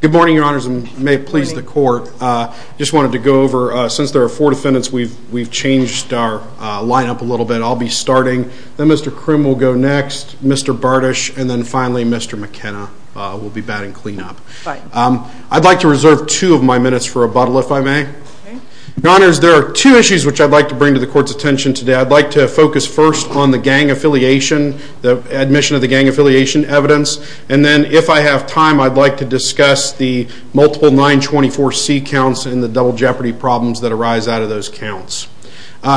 Good morning, Your Honors, and may it please the Court, I just wanted to go over, since there are four defendants, we've changed our lineup a little bit. I'll be starting, then Mr. Kroon will go next, Mr. Bartish, and then finally Mr. McKenna will be batting cleanup. I'd like to reserve two of my minutes for rebuttal, if I may. Your Honors, there are two issues which I'd like to bring to the Court's attention today. I'd like to focus first on the gang affiliation, the admission of the gang affiliation evidence, and then if I have time, I'd like to discuss the multiple 924C counts and the double jeopardy problems that arise out of those counts.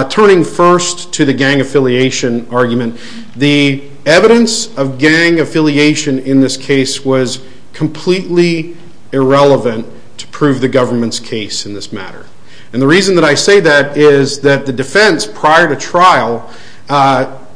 Turning first to the gang affiliation argument, the evidence of gang affiliation in this case was completely irrelevant to prove the government's case in this matter. And the reason that I say that is that the defense, prior to trial,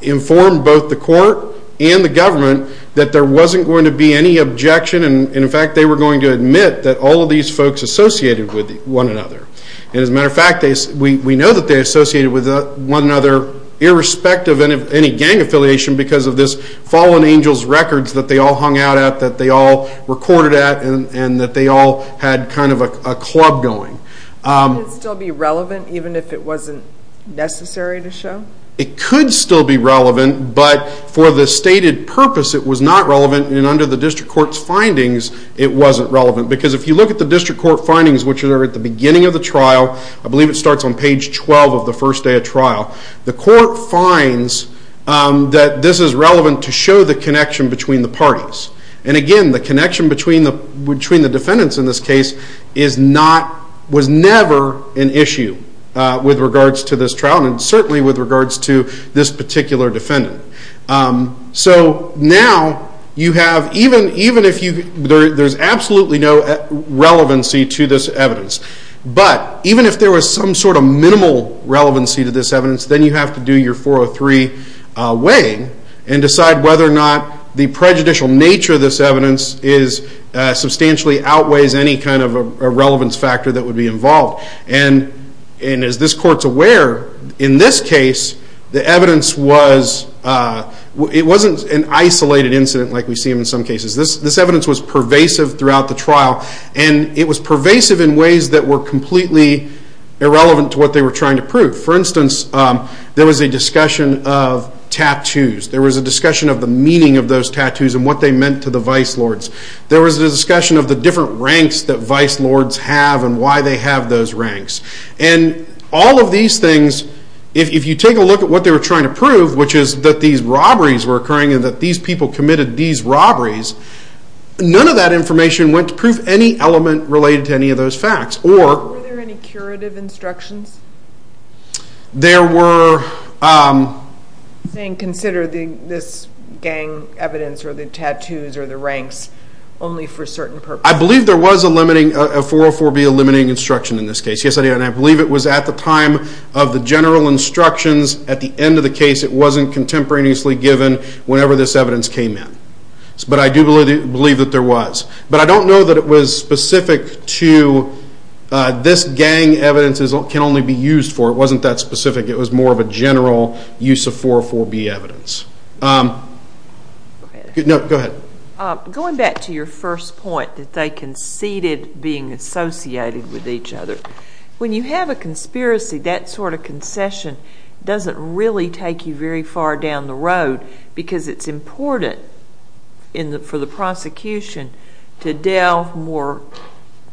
informed both the Court and the government that there wasn't going to be any objection, and in fact, they were going to admit that all of these folks associated with one another. As a matter of fact, we know that they associated with one another, irrespective of any gang affiliation, because of this Fallen Angels records that they all hung out at, that they all recorded at, and that they all had kind of a club going. Could it still be relevant, even if it wasn't necessary to show? It could still be relevant, but for the stated purpose, it was not relevant, and under the District Court's findings, it wasn't relevant, because if you look at the District Court findings, which are at the beginning of the trial, I believe it starts on page 12 of the first day of trial, the Court finds that this is relevant to show the connection between the parties. And again, the connection between the defendants in this case was never an issue with regards to this trial, and certainly with regards to this particular defendant. So now, even if there's absolutely no relevancy to this evidence, but even if there was some sort of minimal relevancy to this evidence, then you have to do your 403 weighing, and decide whether or not the prejudicial nature of this evidence substantially outweighs any kind of relevance factor that would be involved. And as this Court's aware, in this case, the evidence wasn't an isolated incident like we've seen in some cases. This evidence was pervasive throughout the trial, and it was pervasive in ways that were completely irrelevant to what they were trying to prove. For instance, there was a discussion of tattoos. There was a discussion of the meaning of those tattoos and what they meant to the vice lords. There was a discussion of the different ranks that vice lords have and why they have those ranks. And all of these things, if you take a look at what they were trying to prove, which is that these robberies were occurring and that these people committed these robberies, none of that information went to prove any element related to any of those facts. Were there any curative instructions? There were... And consider this gang evidence or the tattoos or the ranks only for certain purposes. I believe there was a 404B eliminating instruction in this case. I believe it was at the time of the general instructions at the end of the case. It wasn't contemporaneously given whenever this evidence came in. But I do believe that there was. But I don't know that it was specific to this gang evidence can only be used for. It wasn't that specific. It was more of a general use of 404B evidence. Go ahead. Going back to your first point that they conceded being associated with each other, when you have a conspiracy, that sort of concession doesn't really take you very far down the road because it's important for the prosecution to delve more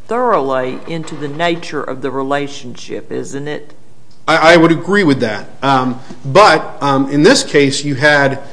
thoroughly into the nature of the relationship, isn't it? I would agree with that. But in this case, you had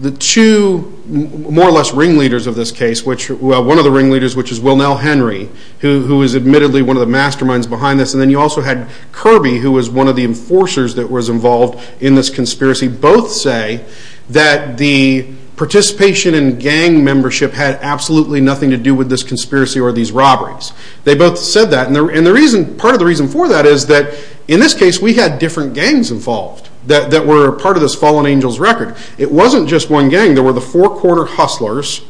the two more or less ringleaders of this case. One of the ringleaders, which is Wilnell Henry, who is admittedly one of the masterminds behind this. And then you also had Kirby, who was one of the enforcers that was involved in this conspiracy. Both say that the participation in gang membership had absolutely nothing to do with this conspiracy or these robberies. They both said that. And part of the reason for that is that in this case we had different gangs involved that were part of this fallen angel's record. It wasn't just one gang. There were the four-quarter hustlers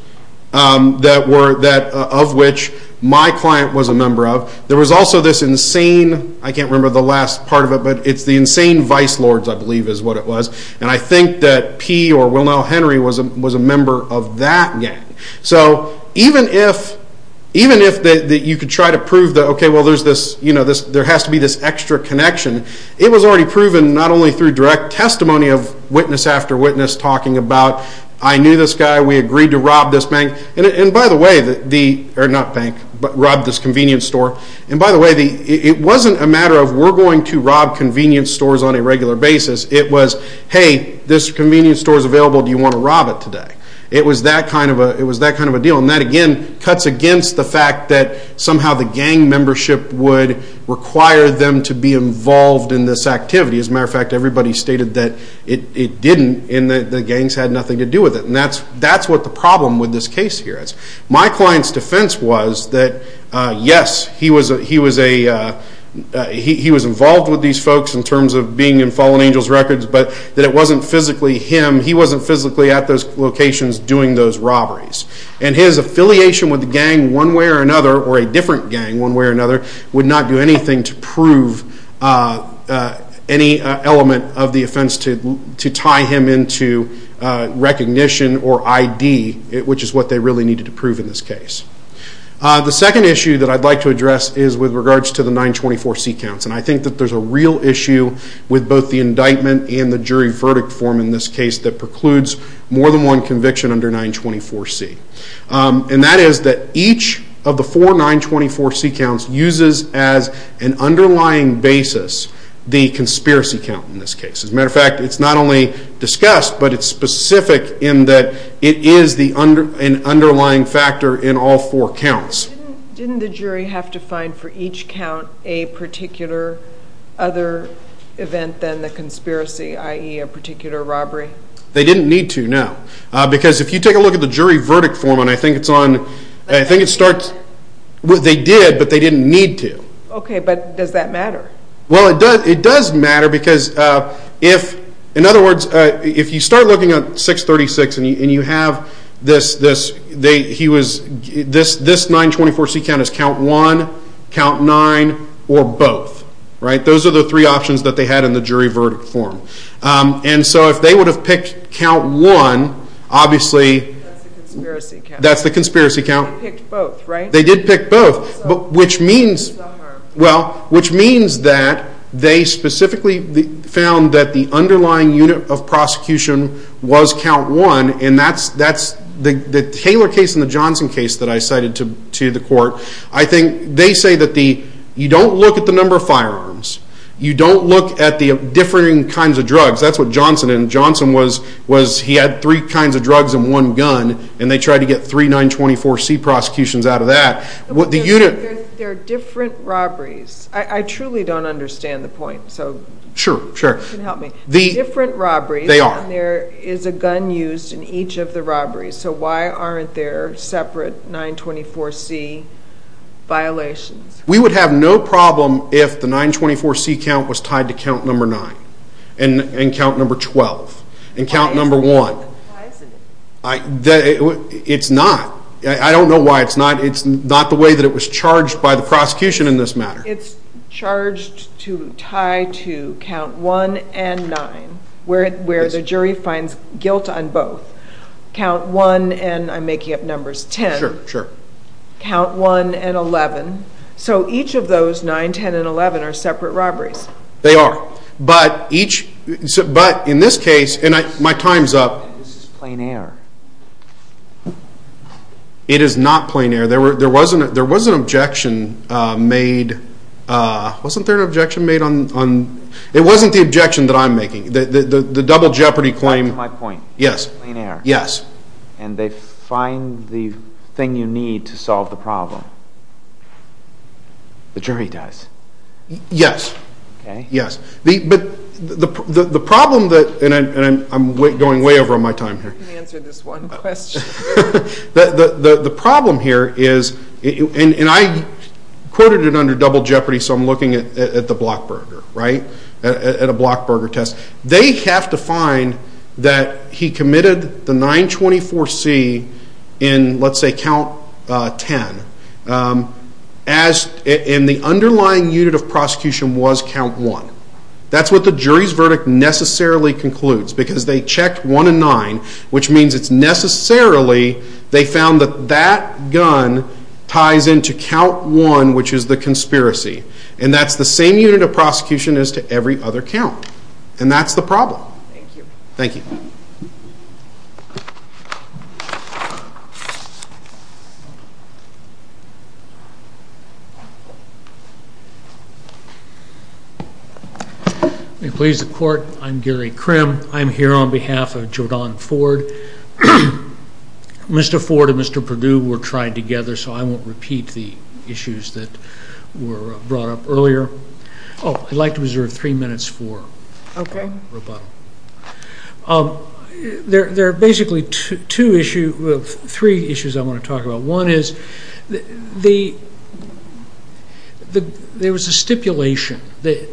of which my client was a member of. There was also this insane, I can't remember the last part of it, but it's the insane vice lords I believe is what it was. And I think that P or Wilnell Henry was a member of that gang. So even if you could try to prove that there has to be this extra connection, it was already proven not only through direct testimony of witness after witness talking about, I knew this guy, we agreed to rob this bank, and by the way, not bank, but rob this convenience store. And by the way, it wasn't a matter of we're going to rob convenience stores on a regular basis. It was, hey, this convenience store is available, do you want to rob it today? It was that kind of a deal. And that again cuts against the fact that somehow the gang membership would require them to be involved in this activity. As a matter of fact, everybody stated that it didn't and the gangs had nothing to do with it. And that's what the problem with this case here is. My client's defense was that, yes, he was involved with these folks in terms of being in Fallen Angels Records, but that it wasn't physically him, he wasn't physically at those locations doing those robberies. And his affiliation with the gang one way or another, or a different gang one way or another, would not do anything to prove any element of the offense to tie him into recognition or ID, which is what they really needed to prove in this case. The second issue that I'd like to address is with regards to the 924C counts. And I think that there's a real issue with both the indictment and the jury verdict form in this case that precludes more than one conviction under 924C. And that is that each of the four 924C counts uses as an underlying basis the conspiracy count in this case. As a matter of fact, it's not only discussed, but it's specific in that it is an underlying factor in all four counts. Didn't the jury have to find for each count a particular other event than the conspiracy, i.e., a particular robbery? They didn't need to, no. Because if you take a look at the jury verdict form, and I think it's on, I think it starts, they did, but they didn't need to. Okay, but does that matter? Well, it does matter because if, in other words, if you start looking at 636 and you have this, he was, this 924C count is count one, count nine, or both, right? Those are the three options that they had in the jury verdict form. And so if they would have picked count one, obviously that's the conspiracy count. They picked both, right? They did pick both. Which means, well, which means that they specifically found that the underlying unit of prosecution was count one, and that's the Taylor case and the Johnson case that I cited to the court. I think they say that the, you don't look at the number of firearms. You don't look at the different kinds of drugs. That's what Johnson is. Johnson was, he had three kinds of drugs and one gun, and they tried to get three 924C prosecutions out of that. There are different robberies. I truly don't understand the point. Sure, sure. If you can help me. Different robberies. They are. And there is a gun used in each of the robberies. So why aren't there separate 924C violations? We would have no problem if the 924C count was tied to count number nine and count number 12 and count number one. Why isn't it? It's not. I don't know why it's not. It's not the way that it was charged by the prosecution in this matter. It's charged to tie to count one and nine, where the jury finds guilt on both. Count one and, I'm making up numbers, ten. Sure, sure. Count one and eleven. So each of those nine, ten, and eleven are separate robberies. They are. But each, but in this case, and my time's up. This is plain air. It is not plain air. There was an objection made, wasn't there an objection made on, it wasn't the objection that I'm making. The double jeopardy claim. That's my point. Yes. Yes. And they find the thing you need to solve the problem. The jury does. Yes. Yes. But the problem that, and I'm going way over my time here. Answer this one question. The problem here is, and I quoted it under double jeopardy, so I'm looking at the Blockburger, right? At a Blockburger test. They have to find that he committed the 924C in, let's say, count ten. And the underlying unit of prosecution was count one. That's what the jury's verdict necessarily concludes, because they checked one and nine, which means it's necessarily, they found that that gun ties into count one, which is the conspiracy. And that's the same unit of prosecution as to every other count. Thank you. Thank you. And please, the court, I'm Gary Crim. I'm here on behalf of Jordan Ford. Mr. Ford and Mr. Perdue were tried together, so I won't repeat the issues that were brought up earlier. I'd like to reserve three minutes for rebuttal. Okay. There are basically two issues, three issues I want to talk about. One is, there was a stipulation,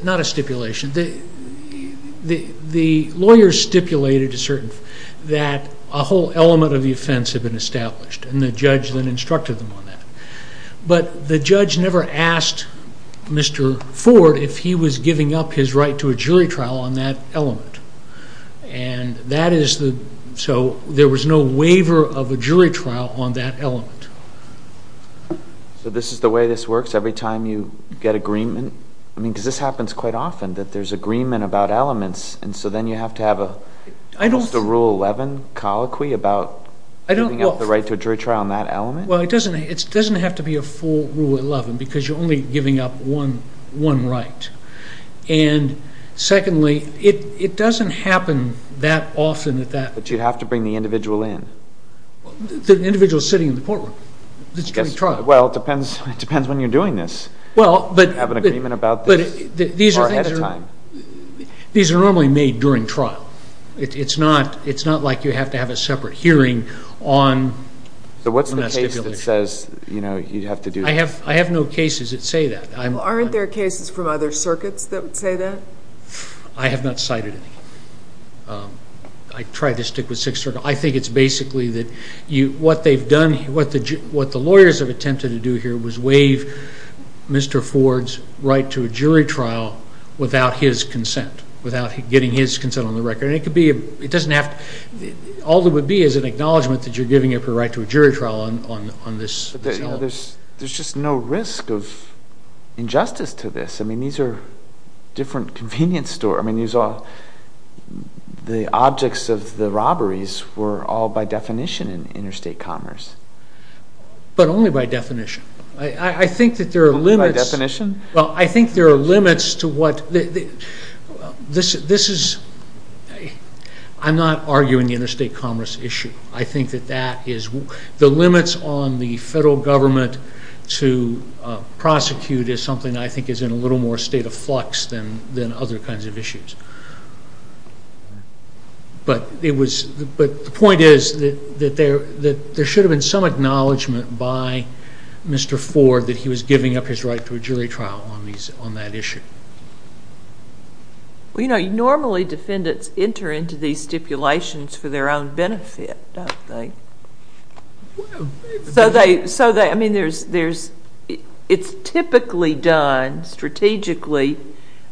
not a stipulation, the lawyer stipulated a certain, that a whole element of the offense had been established, and the judge then instructed them on that. But the judge never asked Mr. Ford if he was giving up his right to a jury trial on that element. And that is the, so there was no waiver of a jury trial on that element. So this is the way this works, every time you get agreement? I mean, because this happens quite often, that there's agreement about elements, and so then you have to have a, is this a Rule 11 colloquy about giving up the right to a jury trial on that element? Well, it doesn't have to be a full Rule 11, because you're only giving up one right. And secondly, it doesn't happen that often. But you have to bring the individual in. The individual is sitting in the courtroom. Well, it depends when you're doing this. Well, but these are normally made during trial. It's not like you have to have a separate hearing on the stipulation. So what's the case that says, you know, you have to do this? I have no cases that say that. Well, aren't there cases from other circuits that say that? I have not cited any. I tried to stick with six circuits. I think it's basically that what they've done, what the lawyers have attempted to do here, was waive Mr. Ford's right to a jury trial without his consent, without getting his consent on the record. And it could be, it doesn't have to, all there would be is an acknowledgement that you're giving up your right to a jury trial on this element. There's just no risk of injustice to this. I mean, these are different convenience stores. I mean, these are all the objects of the robberies were all by definition interstate commerce. But only by definition. I think that there are limits. By definition? Well, I think there are limits to what, this is, I'm not arguing the interstate commerce issue. I think that that is, the limits on the federal government to prosecute is something I think is in a little more state of flux than other kinds of issues. But the point is that there should have been some acknowledgement by Mr. Ford that he was giving up his right to a jury trial on that issue. You know, normally defendants enter into these stipulations for their own benefit, don't they? So they, I mean, there's, it's typically done strategically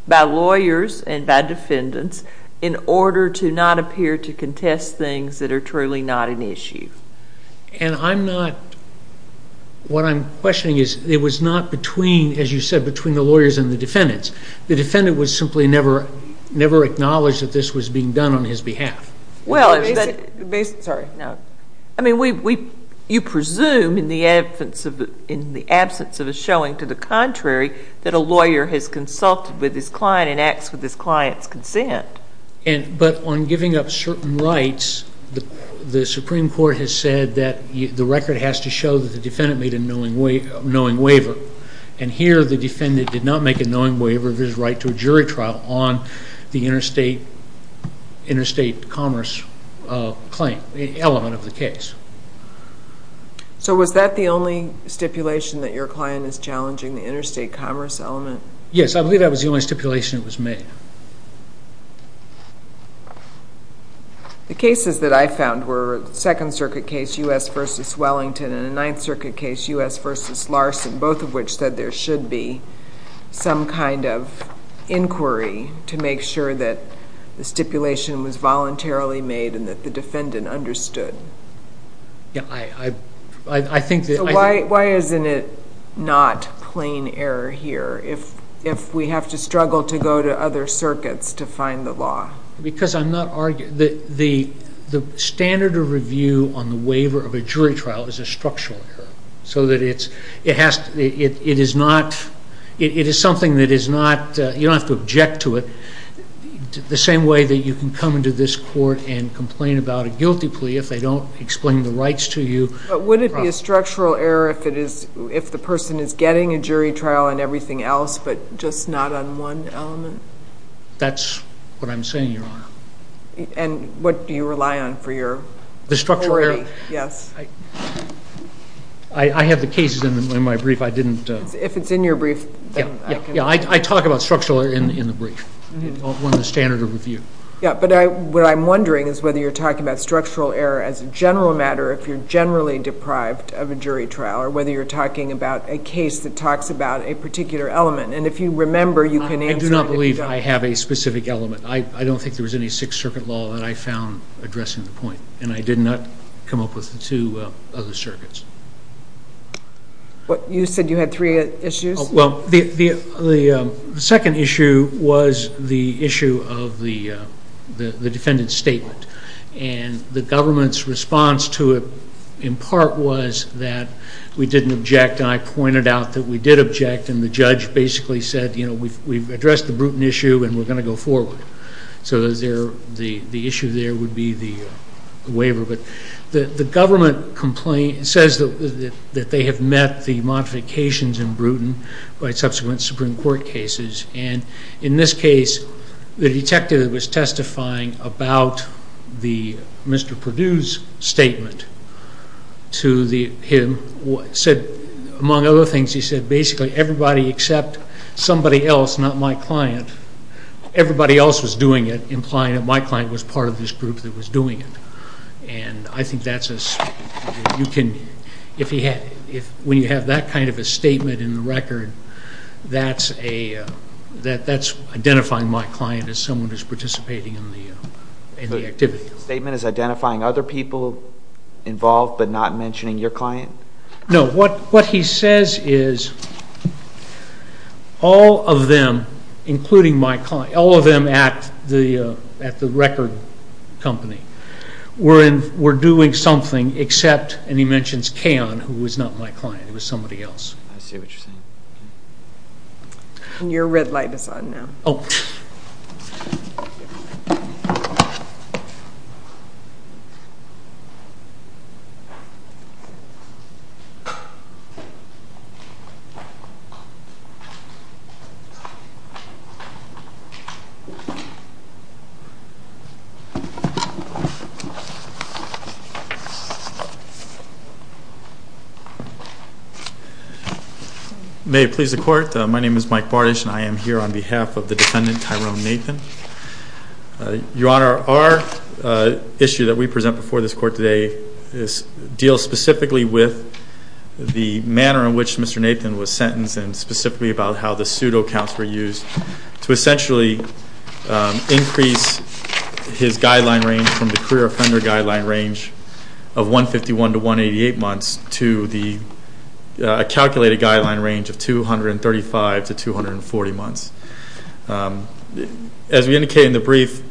by lawyers and by defendants in order to not appear to contest things that are truly not an issue. And I'm not, what I'm questioning is, it was not between, as you said, between the lawyers and the defendants. The defendant would simply never acknowledge that this was being done on his behalf. Well, I mean, you presume in the absence of a showing to the contrary that a lawyer has consulted with his client and acts with his client's consent. But on giving up certain rights, the Supreme Court has said that the record has to show that the defendant made a knowing waiver. And here the defendant did not make a knowing waiver of his right to a jury trial on the interstate commerce claim, the element of the case. So was that the only stipulation that your client is challenging, the interstate commerce element? Yes, I believe that was the only stipulation that was made. The cases that I found were a Second Circuit case, U.S. v. Wellington, and a Ninth Circuit case, U.S. v. Larson, both of which said there should be some kind of inquiry to make sure that the stipulation was voluntarily made and that the defendant understood. Yeah, I think that... Why isn't it not plain error here if we have to struggle to go to other circuits to find the law? Because I'm not arguing... The standard of review on the waiver of a jury trial is a structural error, so that it is something that is not... You don't have to object to it. The same way that you can come into this court and complain about a guilty plea if they don't explain the rights to you... But would it be a structural error if the person is getting a jury trial and everything else, but just not on one element? That's what I'm saying, Your Honor. And what do you rely on for your brief? The structural error... Yes. I have the cases in my brief. I didn't... If it's in your brief, then... Yeah, I talk about structural error in the brief. It's one of the standards of review. Yeah, but what I'm wondering is whether you're talking about structural error as a general matter or if you're generally deprived of a jury trial, or whether you're talking about a case that talks about a particular element. And if you remember, you can answer... I do not believe I have a specific element. I don't think there was any Sixth Circuit law that I found addressing the point, and I did not come up with the two other circuits. You said you had three issues? Well, the second issue was the issue of the defendant's statement, and the government's response to it in part was that we didn't object, and I pointed out that we did object, and the judge basically said, you know, we've addressed the Bruton issue, and we're going to go forward. So the issue there would be the waiver. The government says that they have met the modifications in Bruton by subsequent Supreme Court cases, and in this case, the detective was testifying about Mr. Perdue's statement to him. He said, among other things, he said basically everybody except somebody else, not my client, everybody else was doing it, implying that my client was part of this group that was doing it. And I think that's a... If we have that kind of a statement in the record, that's identifying my client as someone who's participating in the activity. The statement is identifying other people involved but not mentioning your client? No, what he says is all of them, including my client, all of them at the record company, were doing something except, and he mentions Kayon, who was not my client. It was somebody else. I see what you're saying. And your red light is on now. Oh. May it please the Court, my name is Mike Vardish, and I am here on behalf of the defendant, Tyrone Nathan. Your Honor, our issue that we present before this Court today deals specifically with the manner in which Mr. Nathan was sentenced and specifically about how the pseudocounts were used to essentially increase his guideline range from the career-of-primary guideline range of 151 to 188 months to a calculated guideline range of 235 to 240 months. As we indicated in the brief,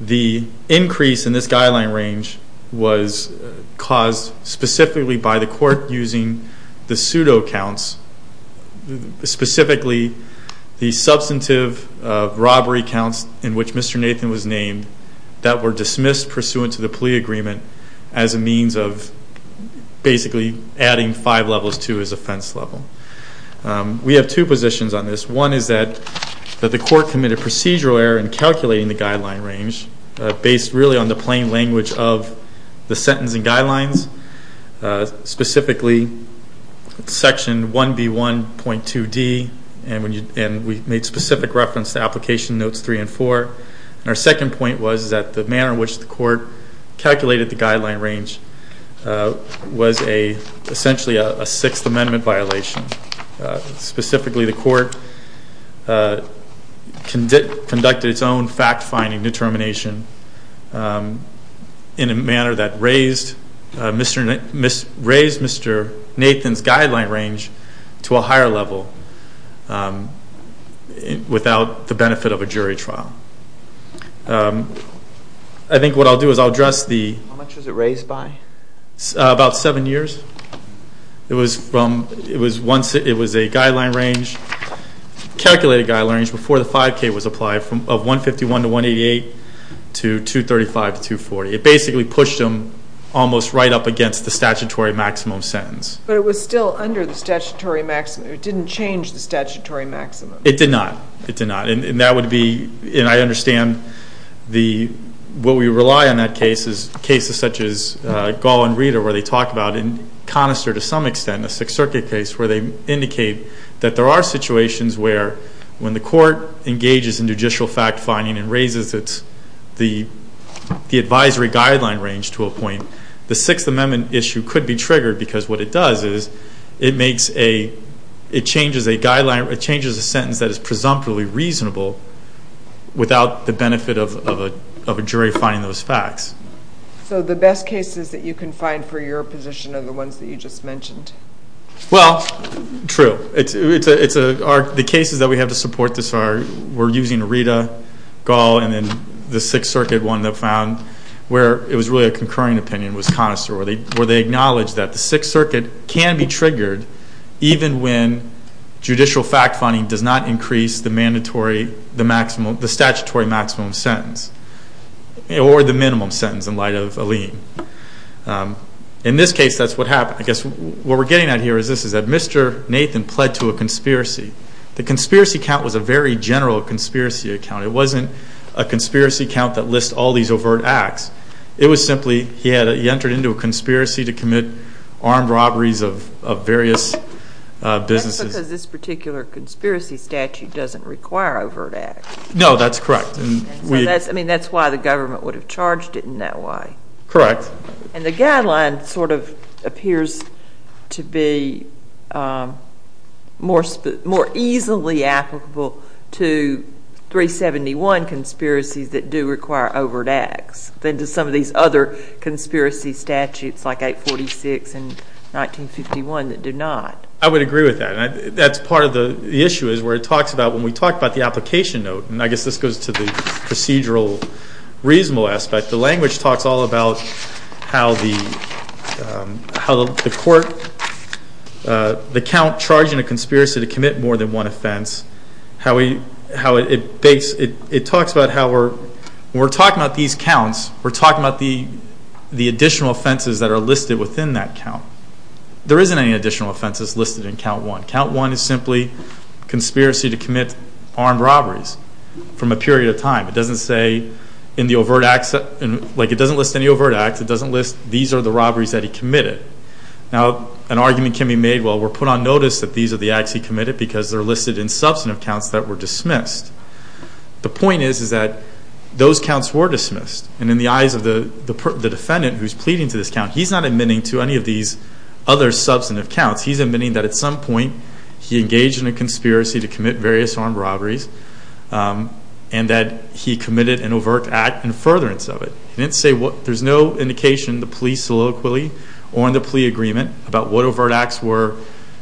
the increase in this guideline range was caused specifically by the Court using the pseudocounts, specifically the substantive robbery count in which Mr. Nathan was named that were dismissed pursuant to the plea agreement as a means of basically adding five levels to his offense level. We have two positions on this. One is that the Court committed procedural error in calculating the guideline range based really on the plain language of the sentencing guidelines, specifically Section 1B1.2D, and we make specific reference to Application Notes 3 and 4. Our second point was that the manner in which the Court calculated the guideline range was essentially a Sixth Amendment violation. Specifically, the Court conducted its own fact-finding determination in a manner that raised Mr. Nathan's guideline range to a higher level without the benefit of a jury trial. I think what I'll do is I'll address the... How much was it raised by? About seven years. It was a calculated guideline range before the 5K was applied of 151 to 188 to 235 to 240. It basically pushed them almost right up against the statutory maximum sentence. But it was still under the statutory maximum. It didn't change the statutory maximum. It did not. It did not. And that would be... And I understand the... What we rely on in that case is cases such as Gall and Reeder where they talk about in Conister to some extent, a Sixth Circuit case where they indicate that there are situations where when the Court engages in judicial fact-finding and raises the advisory guideline range to a point, the Sixth Amendment issue could be triggered because what it does is it makes a... It changes a guideline... It changes a sentence that is presumptively reasonable without the benefit of a jury finding those facts. So the best cases that you can find for your position are the ones that you just mentioned. Well, true. The cases that we have to support this are... We're using Reeder, Gall, and then the Sixth Circuit one that found where it was really a concurring opinion with Conister where they acknowledged that the Sixth Circuit can be triggered even when judicial fact-finding does not increase the mandatory... the statutory maximum sentence or the minimum sentence in light of a lien. In this case, that's what happened. I guess what we're getting at here is this, is that Mr. Nathan pled to a conspiracy. The conspiracy count was a very general conspiracy account. It wasn't a conspiracy count that lists all these overt acts. It was simply he entered into a conspiracy to commit armed robberies of various businesses. That's because this particular conspiracy statute doesn't require overt acts. No, that's correct. I mean, that's why the government would have charged it in that way. Correct. And the guideline sort of appears to be more easily applicable to 371 conspiracies that do require overt acts than to some of these other conspiracy statutes like 846 and 1961 that do not. I would agree with that. That's part of the issue is where it talks about... When we talk about the application note, and I guess this goes to the procedural reasonable aspect, the language talks all about how the court, the count charging a conspiracy to commit more than one offense, it talks about how we're talking about these counts, we're talking about the additional offenses that are listed within that count. There isn't any additional offenses listed in count one. Count one is simply conspiracy to commit armed robberies from a period of time. It doesn't list any overt acts. It doesn't list these are the robberies that he committed. Now, an argument can be made, well, we're put on notice that these are the acts he committed because they're listed in substantive counts that were dismissed. The point is that those counts were dismissed, and in the eyes of the defendant who's pleading to this count, he's not admitting to any of these other substantive counts. He's admitting that at some point he engaged in a conspiracy to commit various armed robberies and that he committed an overt act in furtherance of it. There's no indication in the plea soliloquy on the plea agreement about what overt acts were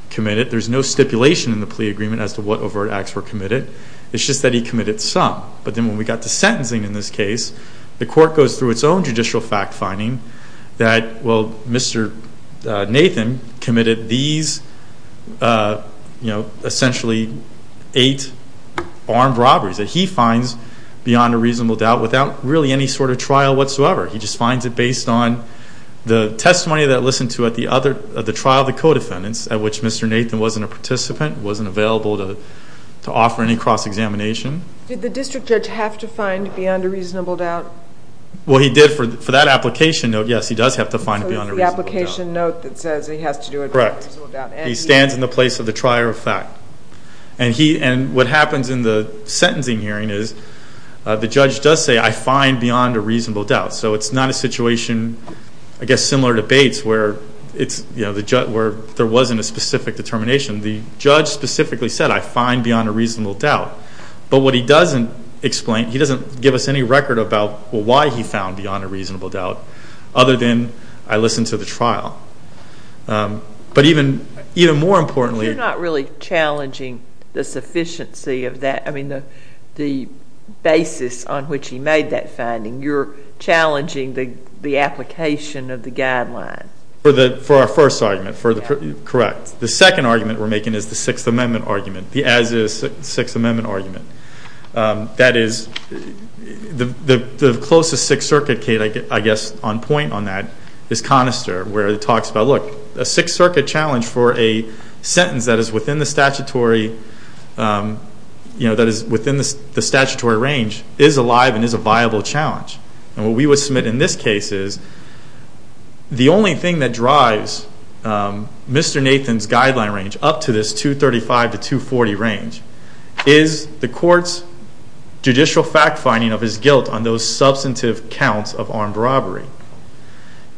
committed. There's no stipulation in the plea agreement as to what overt acts were committed. It's just that he committed some. But then when we got to sentencing in this case, the court goes through its own judicial fact finding that, well, Mr. Nathan committed these, you know, essentially eight armed robberies that he finds beyond a reasonable doubt without really any sort of trial whatsoever. He just finds it based on the testimony that listened to at the trial of the co-defendants at which Mr. Nathan wasn't a participant, wasn't available to offer any cross-examination. Did the district judge have to find beyond a reasonable doubt? Well, he did for that application. The application note, yes, he does have to find it beyond a reasonable doubt. The application note that says he has to do it beyond a reasonable doubt. Correct. He stands in the place of the trier of fact. And what happens in the sentencing hearing is the judge does say, I find beyond a reasonable doubt. So it's not a situation, I guess, similar to Bates, where there wasn't a specific determination. The judge specifically said, I find beyond a reasonable doubt. But what he doesn't explain, he doesn't give us any record about why he found beyond a reasonable doubt other than I listened to the trial. But even more importantly. You're not really challenging the sufficiency of that, I mean the basis on which he made that finding. You're challenging the application of the guidelines. For our first argument. Correct. The second argument we're making is the Sixth Amendment argument, the as-is Sixth Amendment argument. That is, the closest Sixth Circuit case, I guess, on point on that, is Conister where it talks about, look, a Sixth Circuit challenge for a sentence that is within the statutory range is alive and is a viable challenge. And what we would submit in this case is, the only thing that drives Mr. Nathan's guideline range up to this 235 to 240 range is the court's judicial fact-finding of his guilt on those substantive counts of armed robbery.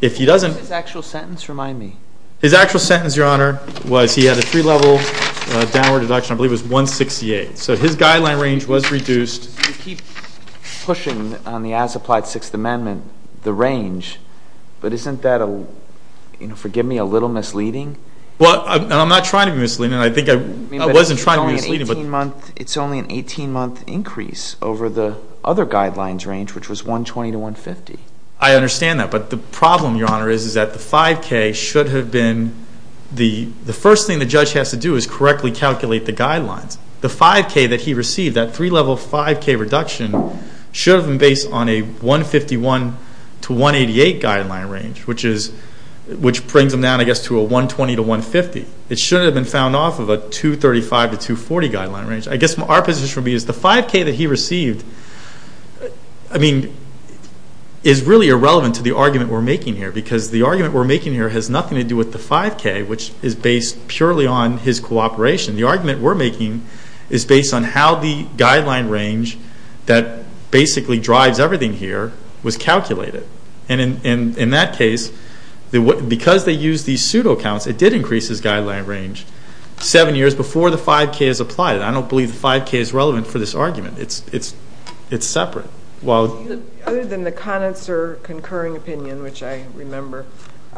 If he doesn't... His actual sentence, remind me. His actual sentence, Your Honor, was he had a three-level downward deduction. I believe it was 168. So his guideline range was reduced. You keep pushing on the as-applied Sixth Amendment, the range. But isn't that, forgive me, a little misleading? Well, I'm not trying to be misleading. I think I wasn't trying to be misleading. It's only an 18-month increase over the other guidelines range, which was 120 to 150. I understand that. But the problem, Your Honor, is that the 5K should have been the first thing the judge has to do is correctly calculate the guidelines. The 5K that he received, that three-level 5K reduction, should have been based on a 151 to 188 guideline range, which brings them down, I guess, to a 120 to 150. It should have been found off of a 235 to 240 guideline range. I guess our position would be that the 5K that he received, I mean, is really irrelevant to the argument we're making here because the argument we're making here has nothing to do with the 5K, which is based purely on his cooperation. The argument we're making is based on how the guideline range that basically drives everything here was calculated. In that case, because they used these pseudo-counts, it did increase his guideline range seven years before the 5K is applied. I don't believe the 5K is relevant for this argument. It's separate. Other than the connoisseur concurring opinion, which I remember.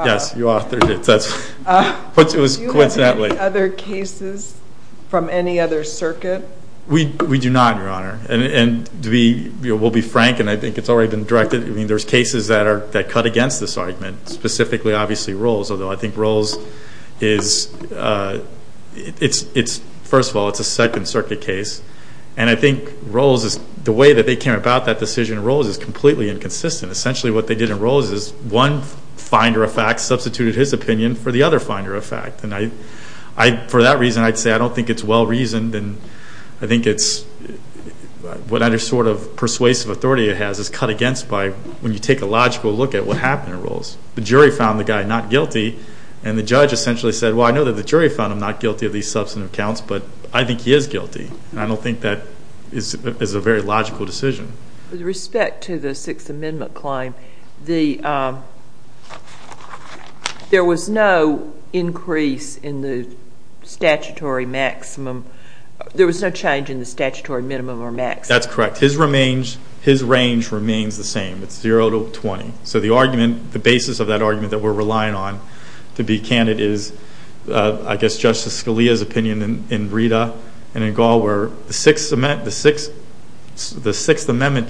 Yes, you authored it. Do you have any other cases from any other circuit? We do not, Your Honor. We'll be frank, and I think it's already been directed. I mean, there's cases that cut against this argument, specifically, obviously, Rolls, although I think Rolls is, first of all, it's a second circuit case, and I think the way that they came about that decision in Rolls is completely inconsistent. Essentially, what they did in Rolls is one finder of fact substituted his opinion for the other finder of fact. For that reason, I'd say I don't think it's well-reasoned, and I think what other sort of persuasive authority it has is cut against by when you take a logical look at what happened in Rolls. The jury found the guy not guilty, and the judge essentially said, well, I know that the jury found him not guilty of these substantive counts, but I think he is guilty. I don't think that is a very logical decision. With respect to the Sixth Amendment claim, there was no increase in the statutory maximum. There was no change in the statutory minimum or maximum. That's correct. His range remains the same. It's zero to 20. So the argument, the basis of that argument that we're relying on to be candid is, I guess, Justice Scalia's opinion in Rita and in Gall where the Sixth Amendment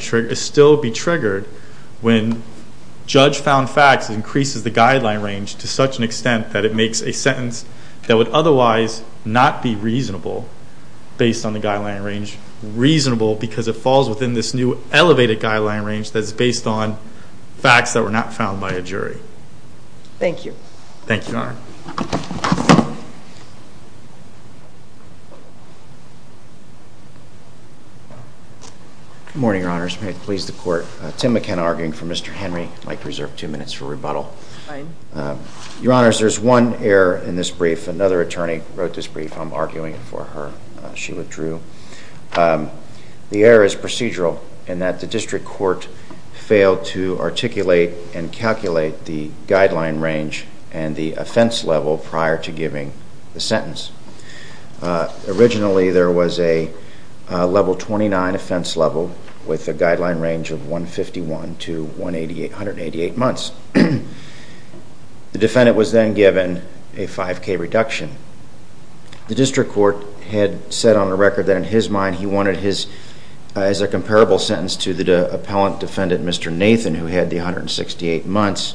should still be triggered when judge found fact increases the guideline range to such an extent that it makes a sentence that would otherwise not be reasonable, based on the guideline range, reasonable because it falls within this new elevated guideline range that is based on facts that were not found by a jury. Thank you. Thank you, Your Honor. Good morning, Your Honors. May it please the Court. Tim McKenna arguing for Mr. Henry. I'd like to reserve two minutes for rebuttal. Fine. Your Honors, there's one error in this brief. Another attorney wrote this brief. I'm arguing it for her. She withdrew. The error is procedural in that the district court failed to articulate and calculate the guideline range and the offense level prior to giving the sentence. Originally, there was a level 29 offense level with a guideline range of 151 to 188, 188 months. The defendant was then given a 5K reduction. The district court had set on a record that in his mind he wanted his as a comparable sentence to the appellant defendant, Mr. Nathan, who had the 168 months,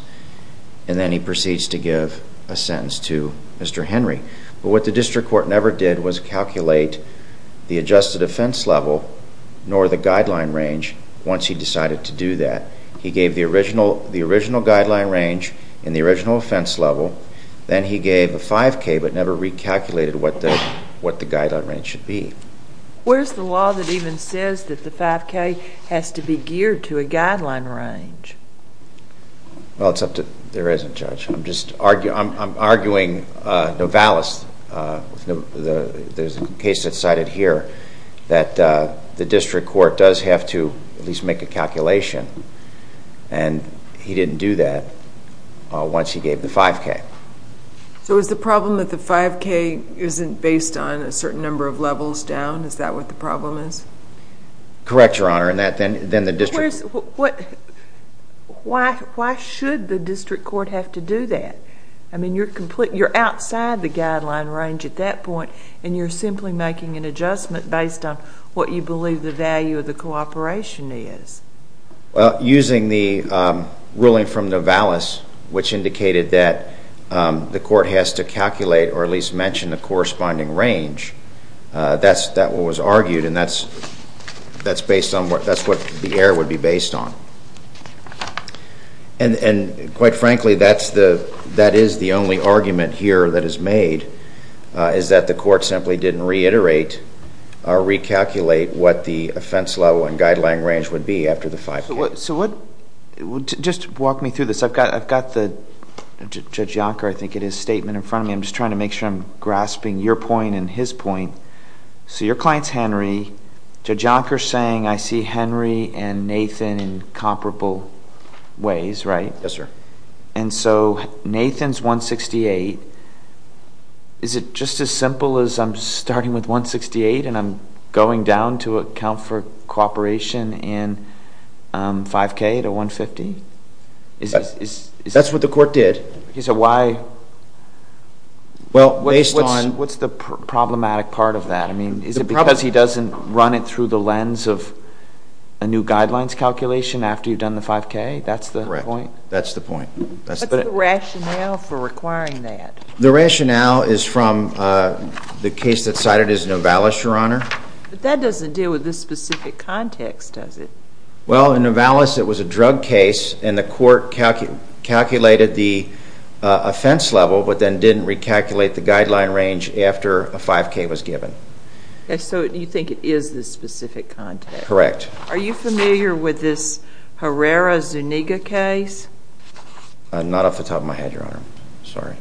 and then he proceeds to give a sentence to Mr. Henry. But what the district court never did was calculate the adjusted offense level nor the guideline range once he decided to do that. He gave the original guideline range and the original offense level. Then he gave the 5K but never recalculated what the guideline range should be. Where's the law that even says that the 5K has to be geared to a guideline range? Well, there isn't, Judge. I'm arguing the case that's cited here, that the district court does have to at least make a calculation, and he didn't do that once he gave the 5K. So is the problem that the 5K isn't based on a certain number of levels down? Is that what the problem is? Correct, Your Honor. Why should the district court have to do that? I mean you're outside the guideline range at that point and you're simply making an adjustment based on what you believe the value of the cooperation is. Using the ruling from Novalis, which indicated that the court has to calculate or at least mention the corresponding range, that's what was argued and that's what the error would be based on. And quite frankly, that is the only argument here that is made, is that the court simply didn't reiterate or recalculate what the offense level and guideline range would be after the 5K. Just walk me through this. I've got Judge Yonker's statement in front of me. I'm just trying to make sure I'm grasping your point and his point. So your client's Henry. Judge Yonker's saying I see Henry and Nathan in comparable ways, right? Yes, sir. And so Nathan's 168. Is it just as simple as I'm starting with 168 and I'm going down to account for cooperation in 5K to 150? That's what the court did. So why? What's the problematic part of that? Is it because he doesn't run it through the lens of a new guidelines calculation after you've done the 5K? That's the point? That's the point. What's the rationale for requiring that? The rationale is from the case that's cited as Novalis, Your Honor. But that doesn't deal with this specific context, does it? Well, in Novalis it was a drug case and the court calculated the offense level but then didn't recalculate the guideline range after a 5K was given. So you think it is this specific context? Correct. Are you familiar with this Herrera-Zuniga case? I'm not off the top of my head, Your Honor. Sorry.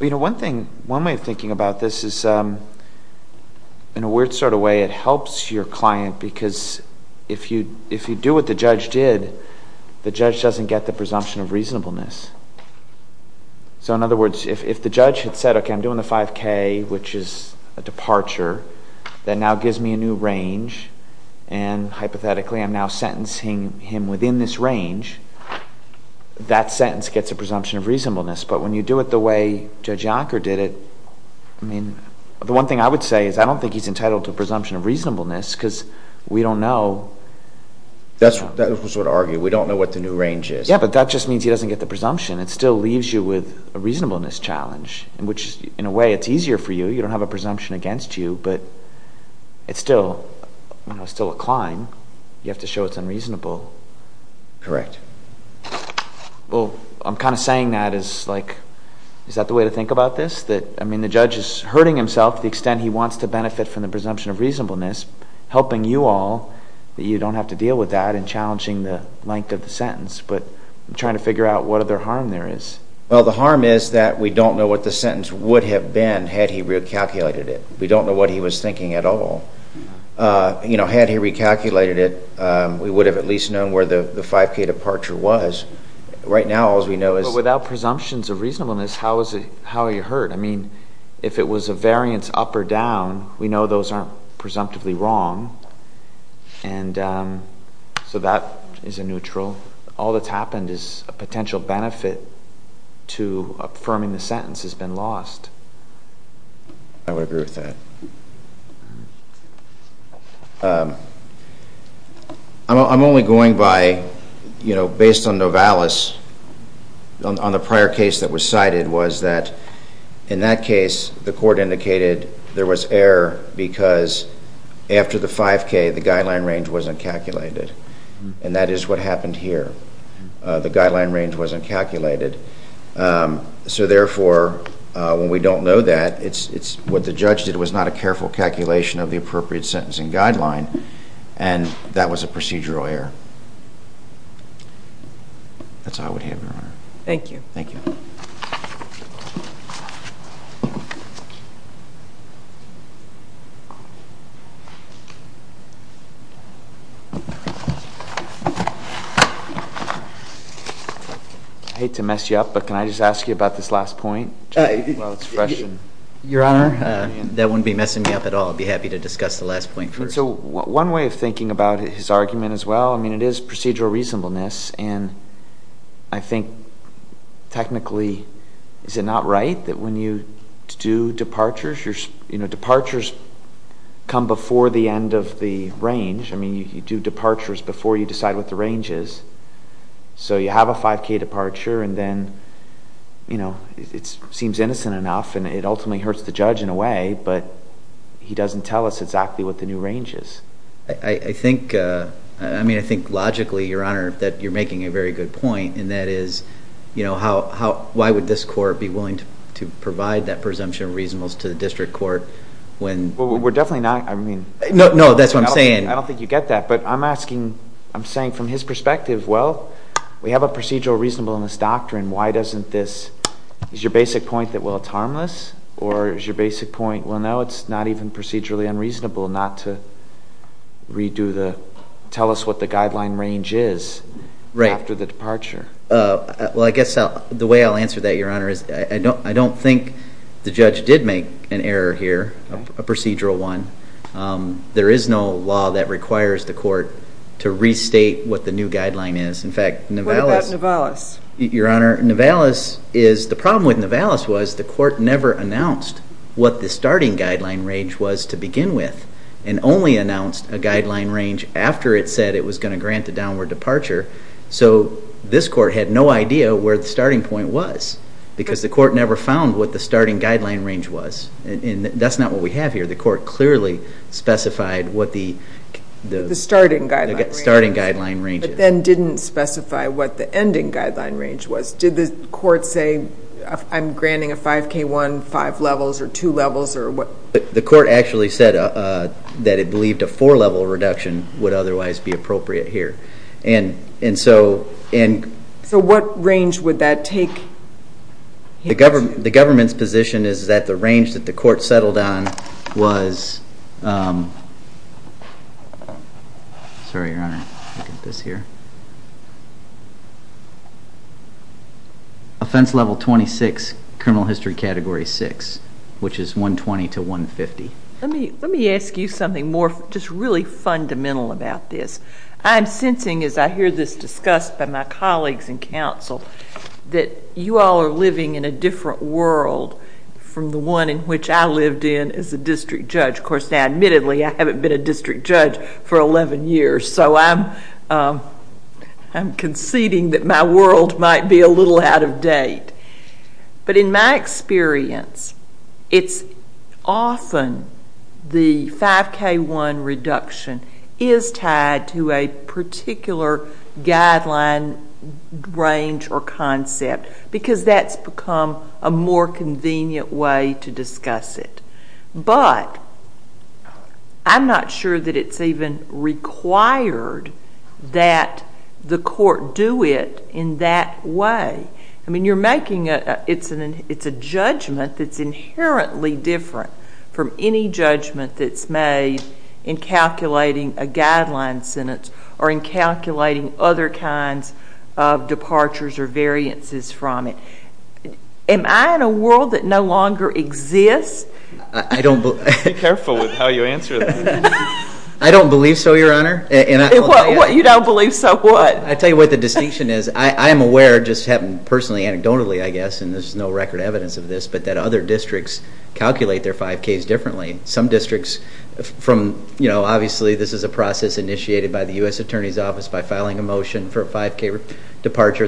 You know, one way of thinking about this is, in a weird sort of way, it helps your client because if you do what the judge did, the judge doesn't get the presumption of reasonableness. So in other words, if the judge had said, okay, I'm doing the 5K, which is a departure, that now gives me a new range, and hypothetically I'm now sentencing him within this range, that sentence gets a presumption of reasonableness. But when you do it the way Judge Yonker did it, the one thing I would say is I don't think he's entitled to a presumption of reasonableness because we don't know. That's what we sort of argue. We don't know what the new range is. Yeah, but that just means he doesn't get the presumption. It still leaves you with a reasonableness challenge, which, in a way, it's easier for you. You don't have a presumption against you, but it's still a climb. You have to show it's unreasonable. Correct. Well, I'm kind of saying that as, like, is that the way to think about this? That, I mean, the judge is hurting himself to the extent he wants to benefit from the presumption of reasonableness, helping you all, but you don't have to deal with that and challenging the length of the sentence. But I'm trying to figure out what other harm there is. Well, the harm is that we don't know what the sentence would have been had he recalculated it. We don't know what he was thinking at all. You know, had he recalculated it, we would have at least known where the 5K departure was. Right now, all we know is... But without presumptions of reasonableness, how are you hurt? I mean, if it was a variance up or down, we know those aren't presumptively wrong, and so that is a neutral. All that's happened is a potential benefit to affirming the sentence has been lost. I would agree with that. I'm only going by, you know, based on Novalis, on the prior case that was cited was that in that case, the court indicated there was error because after the 5K, the guideline range wasn't calculated. And that is what happened here. The guideline range wasn't calculated. So therefore, when we don't know that, it's what the judge did was not a careful calculation of the appropriate sentencing guideline, and that was a procedural error. That's all we have, Your Honor. Thank you. Thank you. I hate to mess you up, but can I just ask you about this last point? Your Honor? That wouldn't be messing me up at all. I'd be happy to discuss the last point first. So one way of thinking about his argument as well, I mean, it is procedural reasonableness, and I think technically, is it not right that when you do departures, you know, departures come before the end of the range? I mean, you do departures before you decide what the range is. So you have a 5K departure, and then, you know, it seems innocent enough, and it ultimately hurts the judge in a way, but he doesn't tell us exactly what the new range is. I think, I mean, I think logically, Your Honor, that you're making a very good point, and that is, you know, why would this court be willing to provide that presumption of reasonableness to the district court when? Well, we're definitely not, I mean. No, that's what I'm saying. I don't think you get that, but I'm asking, I'm saying from his perspective, well, we have a procedural reasonableness doctrine. Why doesn't this, is your basic point that, well, it's harmless, or is your basic point, well, no, it's not even procedurally unreasonable not to redo the, tell us what the guideline range is after the departure? Well, I guess the way I'll answer that, Your Honor, is I don't think the judge did make an error here, a procedural one. There is no law that requires the court to restate what the new guideline is. In fact, Nivalis. What about Nivalis? Your Honor, Nivalis is, the problem with Nivalis was the court never announced what the starting guideline range was to begin with, and only announced a guideline range after it said it was going to grant a downward departure. So this court had no idea where the starting point was, because the court never found what the starting guideline range was. And that's not what we have here. The court clearly specified what the starting guideline range is. But then didn't specify what the ending guideline range was. Did the court say, I'm granting a 5K1, five levels, or two levels, or what? The court actually said that it believed a four-level reduction would otherwise be appropriate here. So what range would that take? The government's position is that the range that the court settled on was, offense level 26, criminal history category 6, which is 120 to 150. Let me ask you something more just really fundamental about this. I'm sensing, as I hear this discussed by my colleagues in counsel, that you all are living in a different world from the one in which I lived in as a district judge. Of course, admittedly, I haven't been a district judge for 11 years, so I'm conceding that my world might be a little out of date. But in my experience, it's often the 5K1 reduction is tied to a particular guideline range or concept because that's become a more convenient way to discuss it. But I'm not sure that it's even required that the court do it in that way. I mean, you're making a judgment that's inherently different from any judgment that's made in calculating a guideline sentence or in calculating other kinds of departures or variances from it. Am I in a world that no longer exists? Be careful with how you answer that. I don't believe so, Your Honor. You don't believe so, what? I'll tell you what the distinction is. I am aware, just anecdotally, I guess, and there's no record evidence of this, but that other districts calculate their 5Ks differently. Obviously, this is a process initiated by the U.S. Attorney's Office by filing a motion for a 5K departure.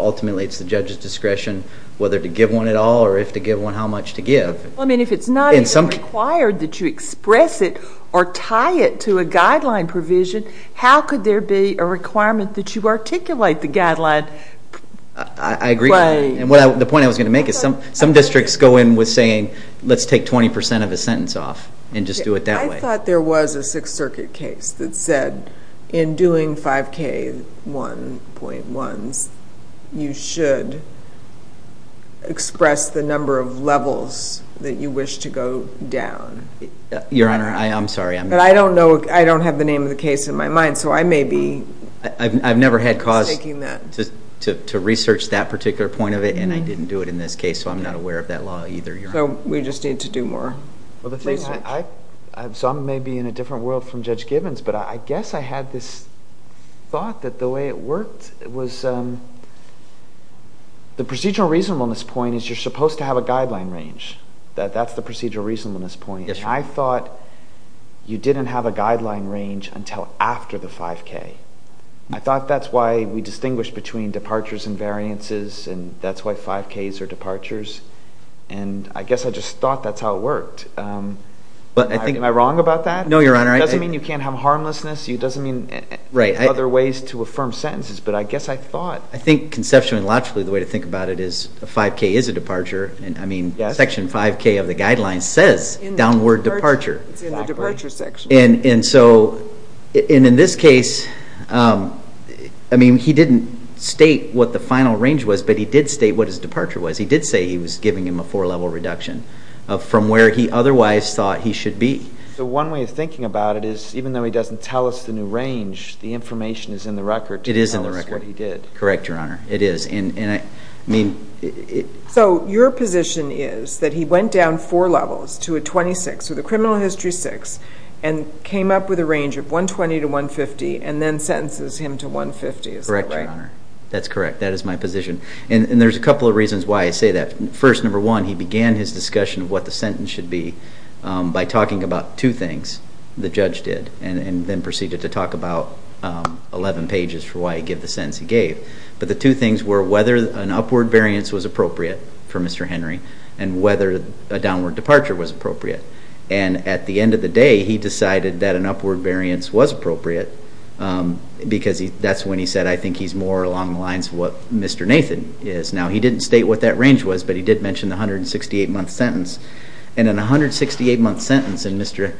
Ultimately, it's the judge's discretion whether to give one at all or if to give one, how much to give. If it's not even required that you express it or tie it to a guideline provision, how could there be a requirement that you articulate the guideline? I agree. The point I was going to make is some districts go in with saying, let's take 20% of the sentence off and just do it that way. I thought there was a Sixth Circuit case that said in doing 5K 1.1, you should express the number of levels that you wish to go down. Your Honor, I'm sorry. I don't have the name of the case in my mind, so I may be taking that. I've never had cause to research that particular point of it, and I didn't do it in this case, so I'm not aware of that law either, Your Honor. We just need to do more. Some may be in a different world from Judge Gibbons, but I guess I had this thought that the way it worked was the procedural reasonableness point is you're supposed to have a guideline range. That's the procedural reasonableness point. I thought you didn't have a guideline range until after the 5K. I thought that's why we distinguish between departures and variances, and that's why 5Ks are departures. I guess I just thought that's how it worked. Am I wrong about that? No, Your Honor. It doesn't mean you can't have harmlessness. It doesn't mean other ways to affirm sentences, but I guess I thought... I think conceptually and logically the way to think about it is a 5K is a departure. Section 5K of the guidelines says downward departure. In the departure section. In this case, he didn't state what the final range was, but he did state what his departure was. He did say he was giving him a four-level reduction from where he otherwise thought he should be. One way of thinking about it is even though he doesn't tell us the new range, the information is in the record. It is in the record. That's what he did. Correct, Your Honor. It is. Your position is that he went down four levels to a 26, so the criminal history 6, and came up with a range of 120 to 150, and then sentences him to 150. Correct, Your Honor. That's correct. That is my position. There's a couple of reasons why I say that. First, number one, he began his discussion of what the sentence should be by talking about two things the judge did, and then proceeded to talk about 11 pages for why he gave the sentence he gave. The two things were whether an upward variance was appropriate for Mr. Henry and whether a downward departure was appropriate. At the end of the day, he decided that an upward variance was appropriate because that's when he said, I think he's more along the lines of what Mr. Nathan is. Now, he didn't state what that range was, but he did mention the 168-month sentence. In a 168-month sentence, Mr.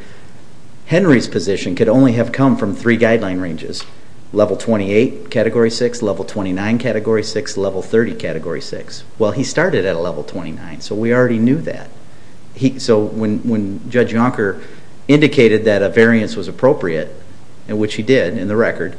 Henry's position could only have come from three guideline ranges, Level 28, Category 6, Level 29, Category 6, Level 30, Category 6. Well, he started at a Level 29, so we already knew that. So when Judge Yonker indicated that a variance was appropriate, which he did in the record,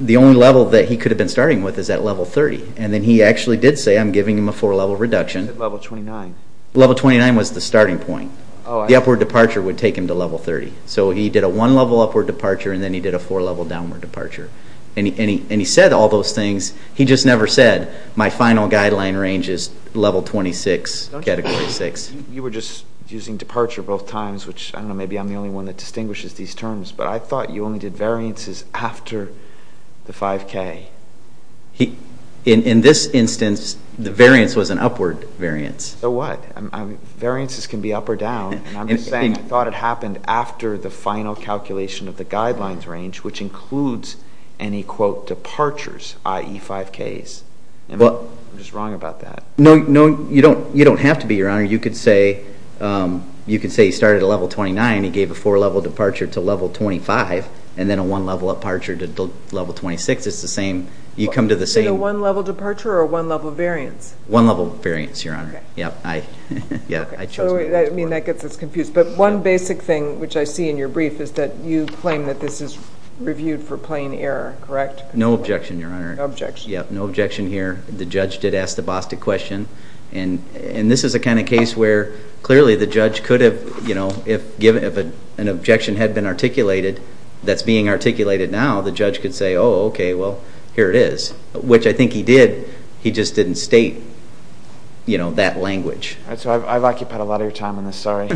the only level that he could have been starting with is at Level 30, and then he actually did say, I'm giving him a four-level reduction. He said Level 29. Level 29 was the starting point. The upward departure would take him to Level 30. So he did a one-level upward departure, and then he did a four-level downward departure. And he said all those things. He just never said, my final guideline range is Level 26, Category 6. You were just using departure both times, which I don't know, maybe I'm the only one that distinguishes these terms, but I thought you only did variances after the 5K. In this instance, the variance was an upward variance. So what? Variances can be up or down. I'm just saying I thought it happened after the final calculation of the guidelines range, which includes any, quote, departures, i.e., 5Ks. I'm just wrong about that. No, you don't have to be, Your Honor. You could say he started at Level 29. He gave a four-level departure to Level 25, and then a one-level departure to Level 26 is the same. So a one-level departure or a one-level variance? One-level variance, Your Honor. That gets us confused. But one basic thing, which I see in your brief, is that you claim that this is reviewed for plain error, correct? No objection, Your Honor. No objection. No objection here. The judge did ask the BOSTA question, and this is the kind of case where clearly the judge could have, you know, if an objection had been articulated that's being articulated now, the judge could say, oh, okay, well, here it is, which I think he did. He just didn't state, you know, that language. I've occupied a lot of your time on this. Sorry.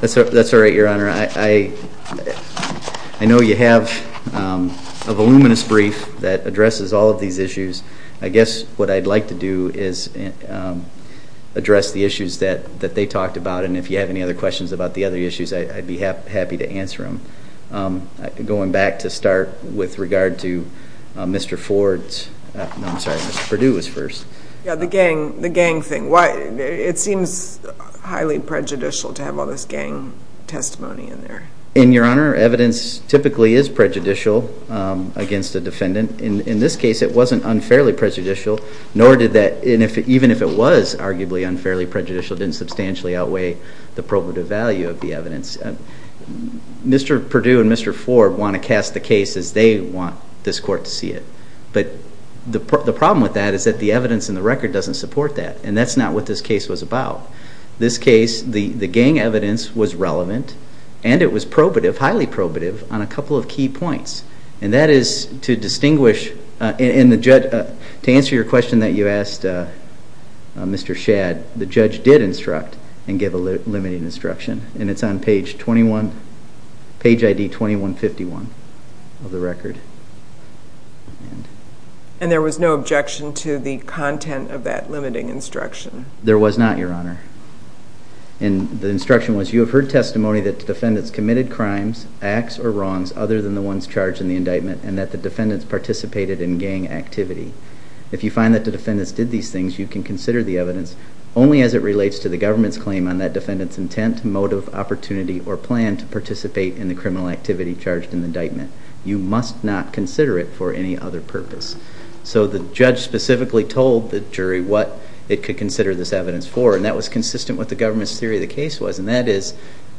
That's all right, Your Honor. I know you have a voluminous brief that addresses all of these issues. I guess what I'd like to do is address the issues that they talked about, and if you have any other questions about the other issues, I'd be happy to answer them. Going back to start with regard to Mr. Ford's – I'm sorry, Mr. Perdue was first. Yeah, the gang thing. It seems highly prejudicial to have all this gang testimony in there. And, Your Honor, evidence typically is prejudicial against the defendant. In this case, it wasn't unfairly prejudicial, nor did that – even if it was arguably unfairly prejudicial, it didn't substantially outweigh the probative value of the evidence. Mr. Perdue and Mr. Ford want to cast the case as they want this court to see it. But the problem with that is that the evidence in the record doesn't support that, and that's not what this case was about. This case, the gang evidence was relevant, and it was probative, highly probative, on a couple of key points. And that is to distinguish – to answer your question that you asked, Mr. Shadd, the judge did instruct and give a limited instruction, and it's on page 21 – page ID 2151 of the record. And there was no objection to the content of that limiting instruction? There was not, Your Honor. And the instruction was, you have heard testimony that the defendants committed crimes, acts, or wrongs other than the ones charged in the indictment, and that the defendants participated in gang activity. If you find that the defendants did these things, you can consider the evidence only as it relates to the government's claim on that defendant's intent, motive, opportunity, or plan to participate in the criminal activity charged in the indictment. You must not consider it for any other purpose. So the judge specifically told the jury what it could consider this evidence for, and that was consistent with the government's theory of the case was, and that is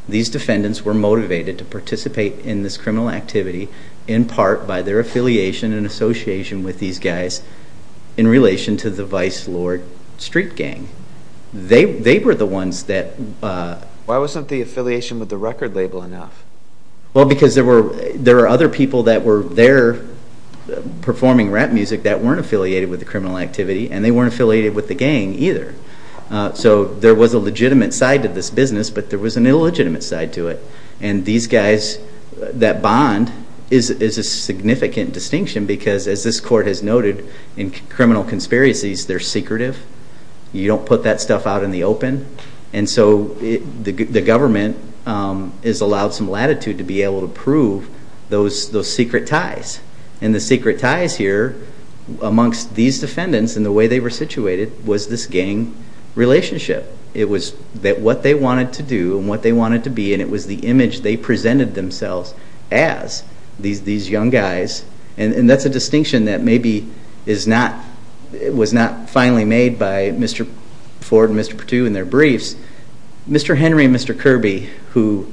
these defendants were motivated to participate in this criminal activity in part by their affiliation and association with these guys in relation to the Vice Lord Street Gang. They were the ones that... Why wasn't the affiliation with the record label enough? Well, because there were other people that were there performing rap music that weren't affiliated with the criminal activity, and they weren't affiliated with the gang either. So there was a legitimate side to this business, but there was an illegitimate side to it. And these guys that bond is a significant distinction because, as this court has noted, in criminal conspiracies, they're secretive. You don't put that stuff out in the open. And so the government has allowed some latitude to be able to prove those secret ties. And the secret ties here amongst these defendants and the way they were situated was this gang relationship. It was what they wanted to do and what they wanted to be, and it was the image they presented themselves as, these young guys. And that's a distinction that maybe was not finally made by Mr. Ford and Mr. Patu in their briefs. Mr. Henry and Mr. Kirby, who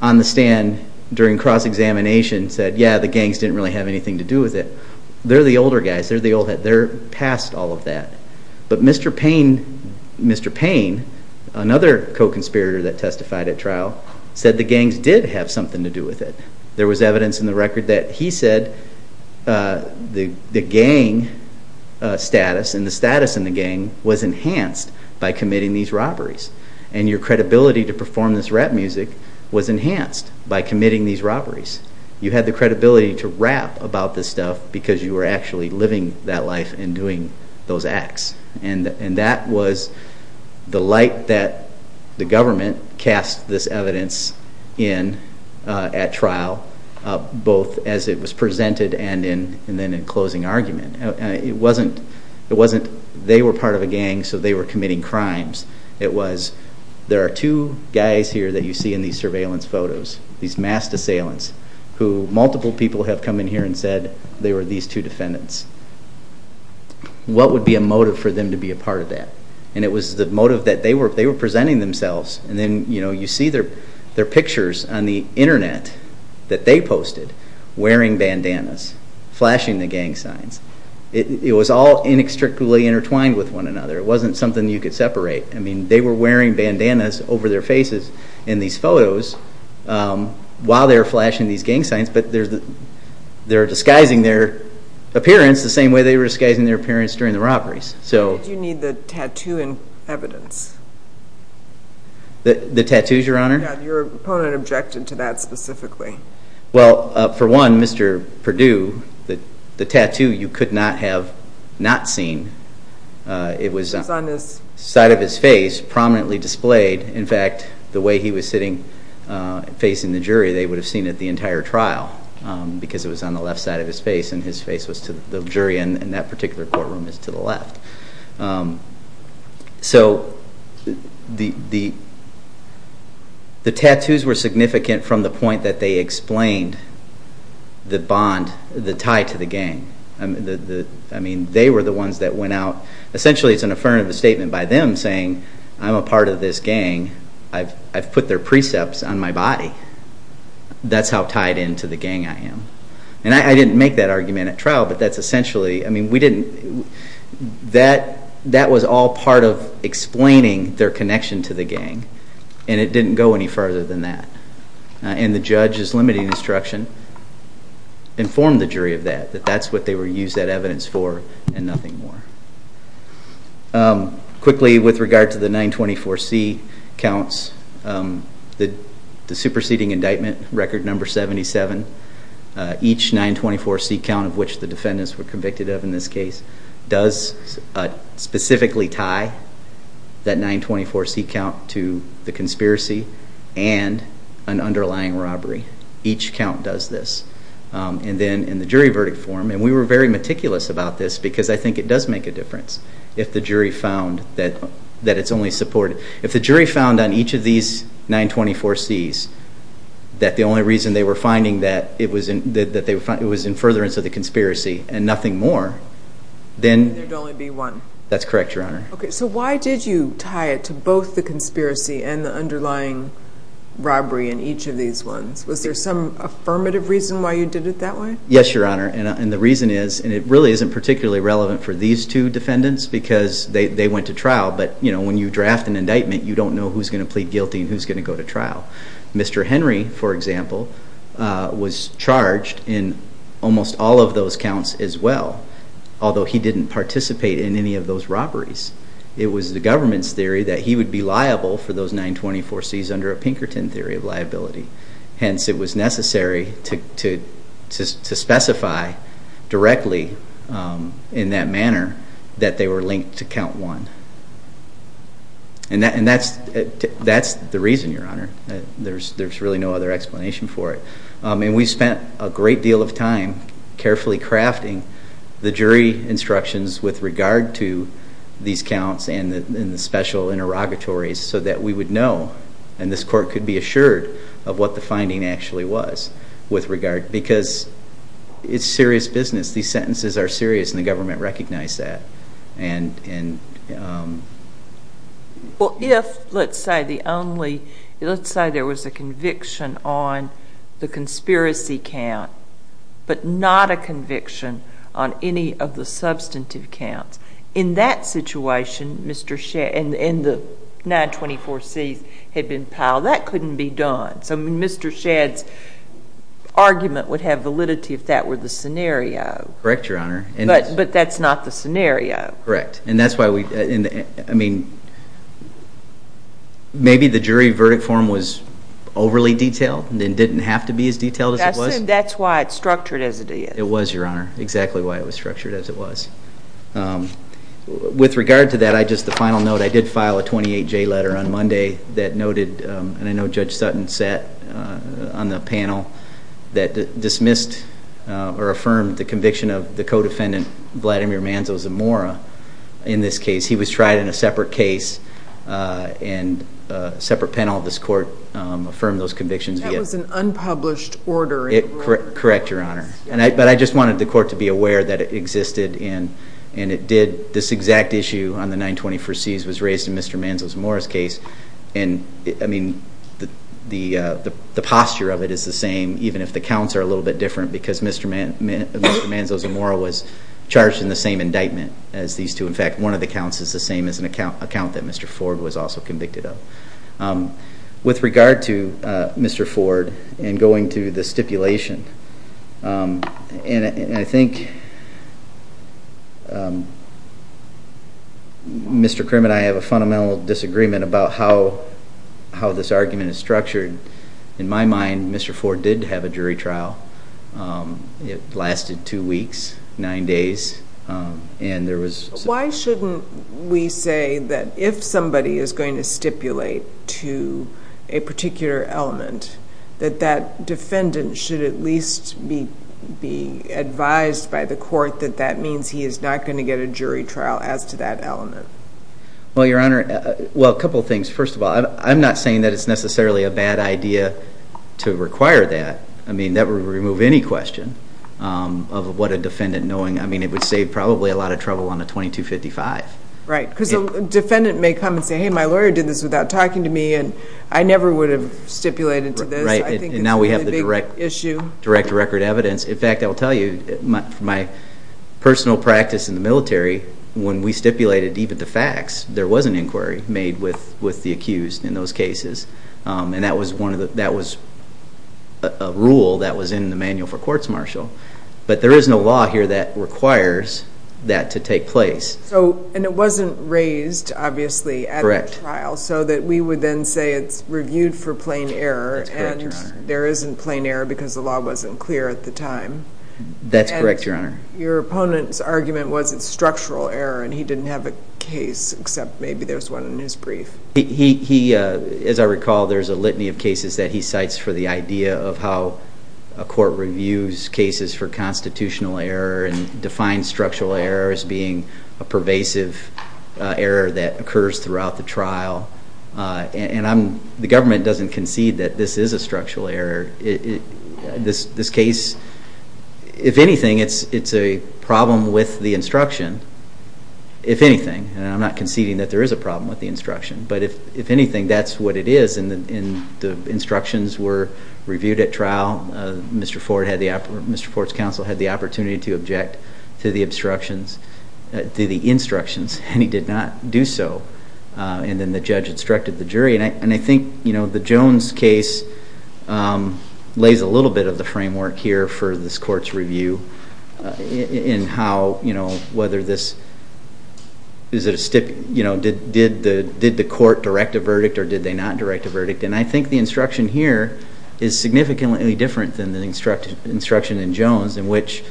on the stand during cross-examination, said, yeah, the gangs didn't really have anything to do with it. They're the older guys. They're past all of that. But Mr. Payne, another co-conspirator that testified at trial, said the gangs did have something to do with it. There was evidence in the record that he said the gang status and the status in the gang was enhanced by committing these robberies. And your credibility to perform this rap music was enhanced by committing these robberies. You had the credibility to rap about this stuff because you were actually living that life and doing those acts. And that was the light that the government cast this evidence in at trial, both as it was presented and then in closing argument. It wasn't they were part of a gang so they were committing crimes. It was there are two guys here that you see in these surveillance photos, these mass assailants, who multiple people have come in here and said they were these two defendants. What would be a motive for them to be a part of that? And it was the motive that they were presenting themselves. And then you see their pictures on the internet that they posted, wearing bandanas, flashing the gang signs. It was all inextricably intertwined with one another. It wasn't something you could separate. They were wearing bandanas over their faces in these photos while they were flashing these gang signs. They're disguising their appearance the same way they were disguising their appearance during the robberies. You need the tattoo and evidence. The tattoos, Your Honor? Have your opponent objected to that specifically? Well, for one, Mr. Perdue, the tattoo you could not have not seen. It was on the side of his face, prominently displayed. In fact, the way he was sitting facing the jury, they would have seen it the entire trial because it was on the left side of his face and his face was to the jury and that particular courtroom is to the left. The tattoos were significant from the point that they explained the bond, the tie to the gang. They were the ones that went out. Essentially, it's an affirmative statement by them saying, I'm a part of this gang. I've put their precepts on my body. That's how tied into the gang I am. I didn't make that argument at trial, but that's essentially, I mean, that was all part of explaining their connection to the gang and it didn't go any further than that. The judge's limiting instruction informed the jury of that, that that's what they were used that evidence for and nothing more. Quickly, with regard to the 924C counts, the superseding indictment record number 77, each 924C count of which the defendants were convicted of in this case does specifically tie that 924C count to the conspiracy and an underlying robbery. Each count does this. Then in the jury verdict form, and we were very meticulous about this because I think it does make a difference if the jury found that it's only supported. If the jury found on each of these 924Cs that the only reason they were finding that it was in furtherance of the conspiracy and nothing more, then... There would only be one. That's correct, Your Honor. Okay, so why did you tie it to both the conspiracy and the underlying robbery in each of these ones? Was there some affirmative reason why you did it that way? Yes, Your Honor. The reason is, and it really isn't particularly relevant for these two defendants because they went to trial, but when you draft an indictment, you don't know who's going to plead guilty and who's going to go to trial. Mr. Henry, for example, was charged in almost all of those counts as well, although he didn't participate in any of those robberies. It was the government's theory that he would be liable for those 924Cs under a Pinkerton theory of liability. Hence, it was necessary to specify directly in that manner that they were linked to Count 1. And that's the reason, Your Honor. There's really no other explanation for it. And we spent a great deal of time carefully crafting the jury instructions with regard to these counts and the special interrogatories so that we would know, and this Court could be assured, of what the finding actually was with regard, because it's serious business. These sentences are serious, and the government recognized that. Well, if, let's say, there was a conviction on the conspiracy count but not a conviction on any of the substantive counts, in that situation, and the 924Cs had been piled, well, that couldn't be done. Mr. Shadd's argument would have validity if that were the scenario. Correct, Your Honor. But that's not the scenario. Correct. Maybe the jury verdict form was overly detailed and didn't have to be as detailed as it was. That's why it's structured as it is. It was, Your Honor, exactly why it was structured as it was. With regard to that, just a final note, I did file a 28J letter on Monday that noted, and I know Judge Sutton sat on the panel, that dismissed or affirmed the conviction of the co-defendant, Vladimir Manzo Zamora, in this case. He was tried in a separate case, and a separate panel of this Court affirmed those convictions. That was an unpublished order. Correct, Your Honor. But I just wanted the Court to be aware that it existed, and this exact issue on the 921C was raised in Mr. Manzo Zamora's case. I mean, the posture of it is the same, even if the counts are a little bit different, because Mr. Manzo Zamora was charged in the same indictment as these two. In fact, one of the counts is the same as an account that Mr. Ford was also convicted of. With regard to Mr. Ford and going to the stipulation, and I think Mr. Krim and I have a fundamental disagreement about how this argument is structured. In my mind, Mr. Ford did have a jury trial. It lasted two weeks, nine days, and there was... Why shouldn't we say that if somebody is going to stipulate to a particular element, that that defendant should at least be advised by the Court that that means he is not going to get a jury trial as to that element? Well, Your Honor, well, a couple of things. First of all, I'm not saying that it's necessarily a bad idea to require that. I mean, that would remove any question of what a defendant knowing... I mean, it would save probably a lot of trouble on the 2255. Right, because the defendant may come and say, hey, my lawyer did this without talking to me, and I never would have stipulated to this. Right, and now we have the direct record evidence. In fact, I will tell you, my personal practice in the military, when we stipulated deep into facts, there was an inquiry made with the accused in those cases, and that was a rule that was in the Manual for Courts Martial. But there is no law here that requires that to take place. And it wasn't raised, obviously, at the trial, so that we would then say it's reviewed for plain error, and there isn't plain error because the law wasn't clear at the time. That's correct, Your Honor. And your opponent's argument was it's structural error, and he didn't have a case, except maybe there's one in his brief. He, as I recall, there's a litany of cases that he cites for the idea of how a court reviews cases for constitutional error and defines structural error as being a pervasive error that occurs throughout the trial. And the government doesn't concede that this is a structural error. This case, if anything, it's a problem with the instruction, if anything. And I'm not conceding that there is a problem with the instruction. But if anything, that's what it is, and the instructions were reviewed at trial. Mr. Ford's counsel had the opportunity to object to the instructions, and he did not do so. And then the judge instructed the jury. And I think the Jones case lays a little bit of the framework here for this court's review in how, you know, whether this is a, you know, did the court direct a verdict or did they not direct a verdict. And I think the instruction here is significantly different than the instruction in Jones, in which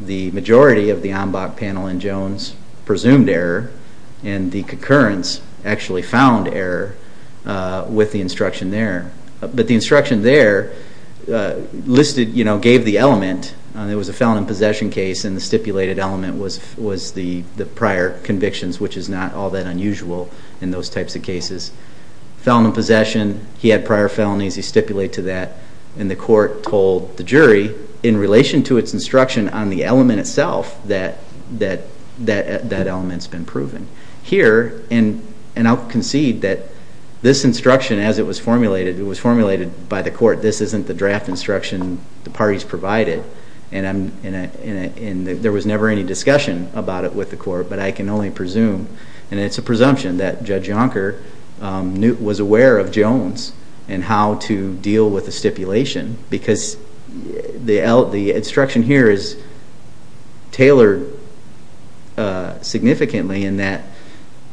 the majority of the ombud panel in Jones presumed error, and the concurrence actually found error with the instruction there. But the instruction there listed, you know, gave the element, it was a felon in possession case, and the stipulated element was the prior convictions, which is not all that unusual in those types of cases. Felon in possession, he had prior felonies, he stipulated to that, and the court told the jury in relation to its instruction on the element itself that that element's been proven. Here, and I'll concede that this instruction, as it was formulated, it was formulated by the court, this isn't the draft instruction the parties provided, and there was never any discussion about it with the court, but I can only presume, and it's a presumption, that Judge Yonker was aware of Jones and how to deal with the stipulation, because the instruction here is tailored significantly in that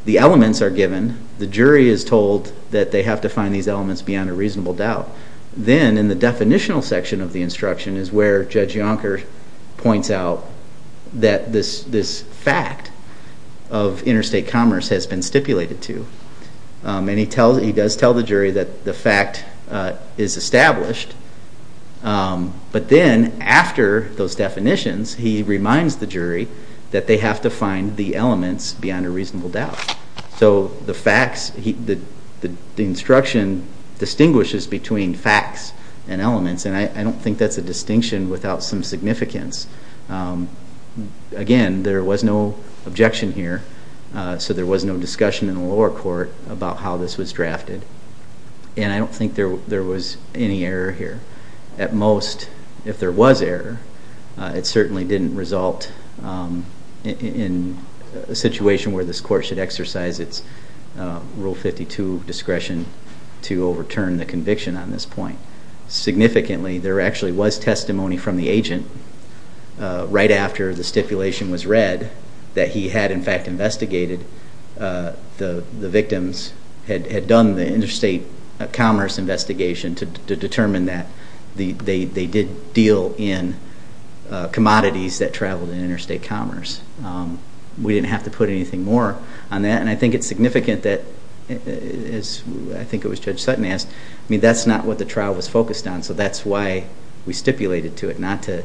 the elements are given, the jury is told that they have to find these elements beyond a reasonable doubt. Then, in the definitional section of the instruction is where Judge Yonker points out that this fact of interstate commerce has been stipulated to, and he does tell the jury that the fact is established, but then, after those definitions, he reminds the jury that they have to find the elements beyond a reasonable doubt. So, the instruction distinguishes between facts and elements, and I don't think that's a distinction without some significance. Again, there was no objection here, so there was no discussion in the lower court about how this was drafted, and I don't think there was any error here. At most, if there was error, it certainly didn't result in a situation where this court should exercise its Rule 52 discretion to overturn the conviction on this point. Significantly, there actually was testimony from the agent right after the stipulation was read that he had, in fact, investigated the victims, had done the interstate commerce investigation to determine that they did deal in commodities that traveled in interstate commerce. We didn't have to put anything more on that, and I think it's significant that, as I think it was Judge Sutton asked, I mean, that's not what the trial was focused on, so that's why we stipulated to it, not to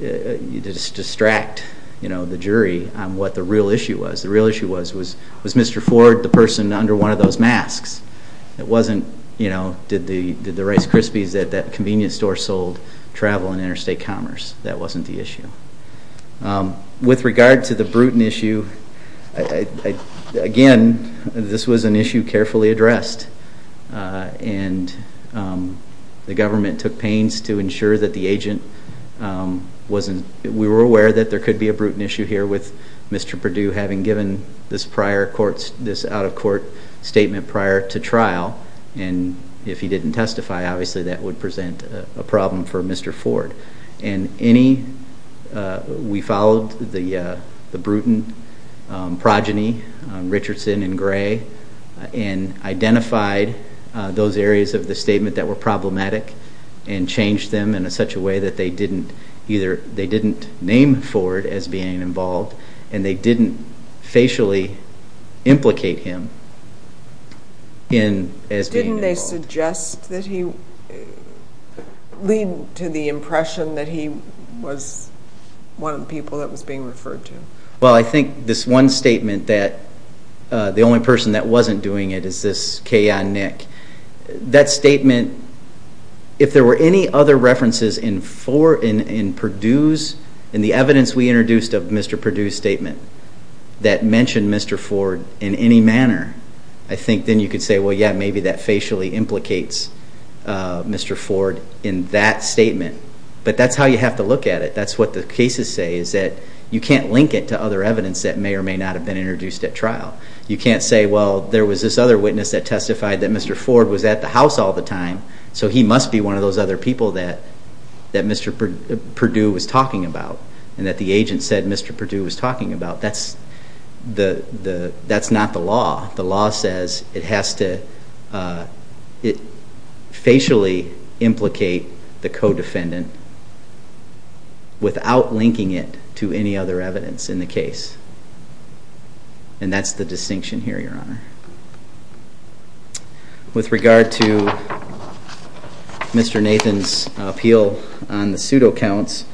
distract the jury on what the real issue was. The real issue was, was Mr. Ford the person under one of those masks? It wasn't, you know, did the Rice Krispies at that convenience store sold travel in interstate commerce? That wasn't the issue. With regard to the Bruton issue, again, this was an issue carefully addressed, and the government took pains to ensure that the agent wasn't, we were aware that there could be a Bruton issue here with Mr. Perdue having given this prior court, this out-of-court statement prior to trial, and if he didn't testify, obviously that would present a problem for Mr. Ford. And any, we followed the Bruton progeny, Richardson and Gray, and identified those areas of the statement that were problematic and changed them in such a way that they didn't either, they didn't name Ford as being involved, and they didn't facially implicate him as being involved. Didn't they suggest that he, lead to the impression that he was one of the people that was being referred to? Well, I think this one statement that the only person that wasn't doing it is this Kayon Nick. That statement, if there were any other references in Ford, in Perdue's, in the evidence we introduced of Mr. Perdue's statement, that mentioned Mr. Ford in any manner, I think then you could say, well, yeah, maybe that facially implicates Mr. Ford in that statement. But that's how you have to look at it. That's what the cases say, is that you can't link it to other evidence that may or may not have been introduced at trial. You can't say, well, there was this other witness that testified that Mr. Ford was at the house all the time, so he must be one of those other people that Mr. Perdue was talking about, and that the agent said Mr. Perdue was talking about. That's not the law. The law says it has to facially implicate the co-defendant without linking it to any other evidence in the case, and that's the distinction here, Your Honor. With regard to Mr. Nathan's appeal on the pseudo counts,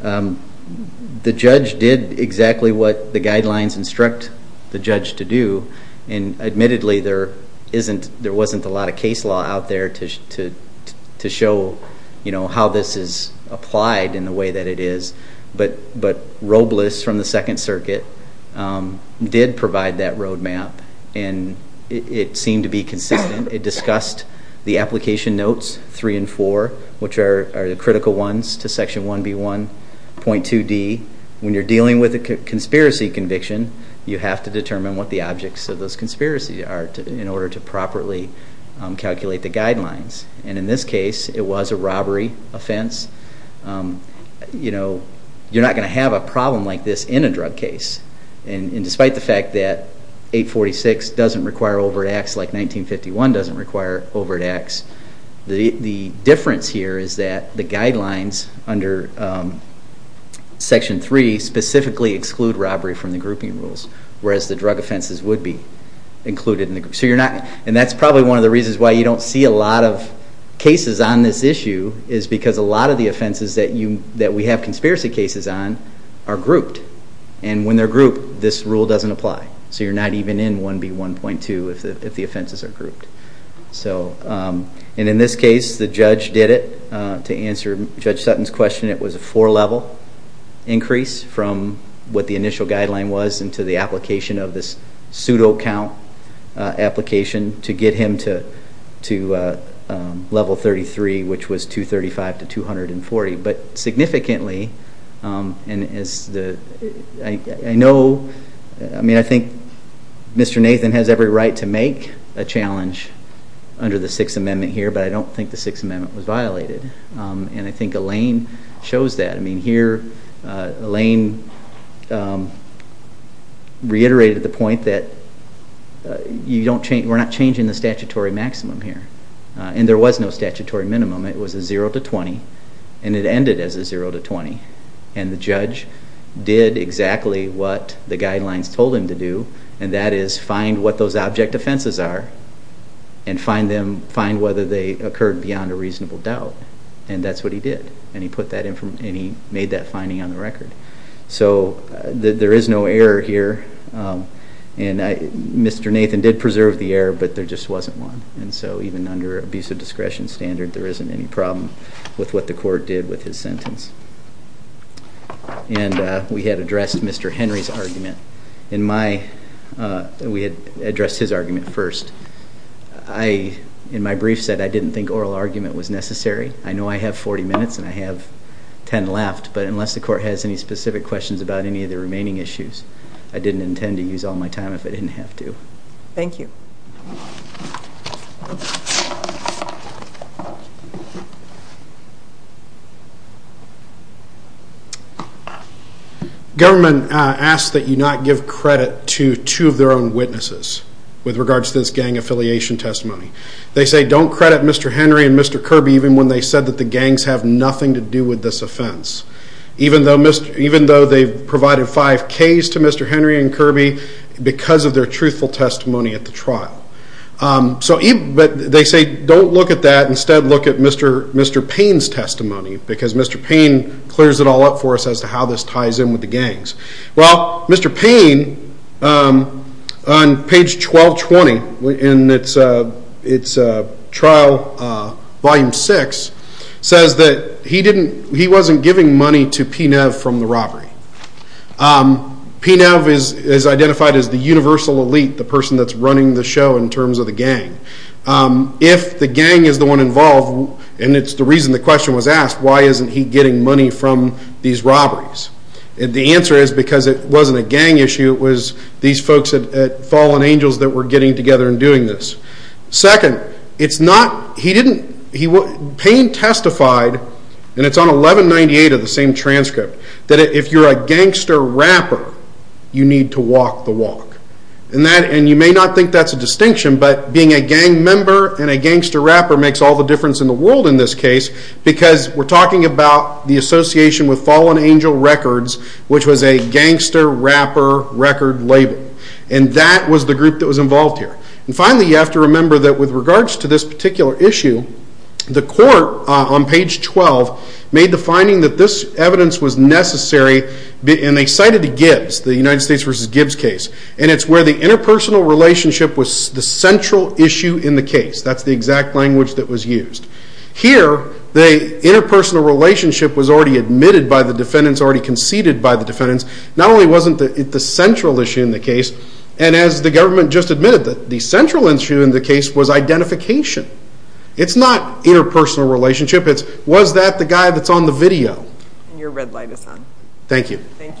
the judge did exactly what the guidelines instruct the judge to do, and admittedly there wasn't a lot of case law out there to show how this is applied in the way that it is, but Robles from the Second Circuit did provide that roadmap, and it seemed to be consistent. It discussed the application notes 3 and 4, which are the critical ones to Section 1B1.2d. When you're dealing with a conspiracy conviction, you have to determine what the objects of those conspiracies are in order to properly calculate the guidelines, and in this case it was a robbery offense. You're not going to have a problem like this in a drug case, and despite the fact that 846 doesn't require overt acts like 1951 doesn't require overt acts, the difference here is that the guidelines under Section 3 specifically exclude robbery from the grouping rules, whereas the drug offenses would be included. That's probably one of the reasons why you don't see a lot of cases on this issue, is because a lot of the offenses that we have conspiracy cases on are grouped, and when they're grouped, this rule doesn't apply, so you're not even in 1B1.2 if the offenses are grouped. In this case, the judge did it. To answer Judge Sutton's question, it was a four-level increase from what the initial guideline was into the application of this pseudo-count application to get him to level 33, which was 235 to 240, but significantly, I think Mr. Nathan has every right to make a challenge under the Sixth Amendment here, but I don't think the Sixth Amendment was violated, and I think Elaine chose that. Here, Elaine reiterated the point that we're not changing the statutory maximum here, and there was no statutory minimum. It was a zero to 20, and it ended as a zero to 20, and the judge did exactly what the guidelines told him to do, and that is find what those object offenses are and find whether they occurred beyond a reasonable doubt, and that's what he did. He put that in, and he made that finding on the record. So there is no error here, and Mr. Nathan did preserve the error, but there just wasn't one. So even under abuse of discretion standard, there isn't any problem with what the court did with his sentence. We had addressed Mr. Henry's argument. We had addressed his argument first. In my brief set, I didn't think oral argument was necessary. I know I have 40 minutes and I have 10 left, but unless the court has any specific questions about any of the remaining issues, I didn't intend to use all my time if I didn't have to. Thank you. The government asks that you not give credit to two of their own witnesses with regards to this gang affiliation testimony. They say don't credit Mr. Henry and Mr. Kirby even when they said that the gangs have nothing to do with this offense, even though they provided five K's to Mr. Henry and Kirby because of their truthful testimony at the trial. They say don't look at that. Instead, look at Mr. Payne's testimony because Mr. Payne clears it all up for us as to how this ties in with the gangs. Mr. Payne, on page 1220 in its trial volume 6, says that he wasn't giving money to PNEV from the robbery. PNEV is identified as the universal elite, the person that's running the show in terms of the gang. If the gang is the one involved, and it's the reason the question was asked, why isn't he getting money from these robberies? The answer is because it wasn't a gang issue. It was these folks at Fallen Angels that were getting together and doing this. Second, Payne testified, and it's on 1198 of the same transcript, that if you're a gangster rapper, you need to walk the walk. You may not think that's a distinction, but being a gang member and a gangster rapper makes all the difference in the world in this case because we're talking about the association with Fallen Angel Records, which was a gangster rapper record label. And that was the group that was involved here. And finally, you have to remember that with regards to this particular issue, the court on page 12 made the finding that this evidence was necessary in a cited to Gibbs, the United States v. Gibbs case, and it's where the interpersonal relationship was the central issue in the case. That's the exact language that was used. Here, the interpersonal relationship was already admitted by the defendants, already conceded by the defendants. Not only wasn't it the central issue in the case, and as the government just admitted, the central issue in the case was identification. It's not interpersonal relationship. It's was that the guy that's on the video. Your red light is on. Thank you. Thank you. Thank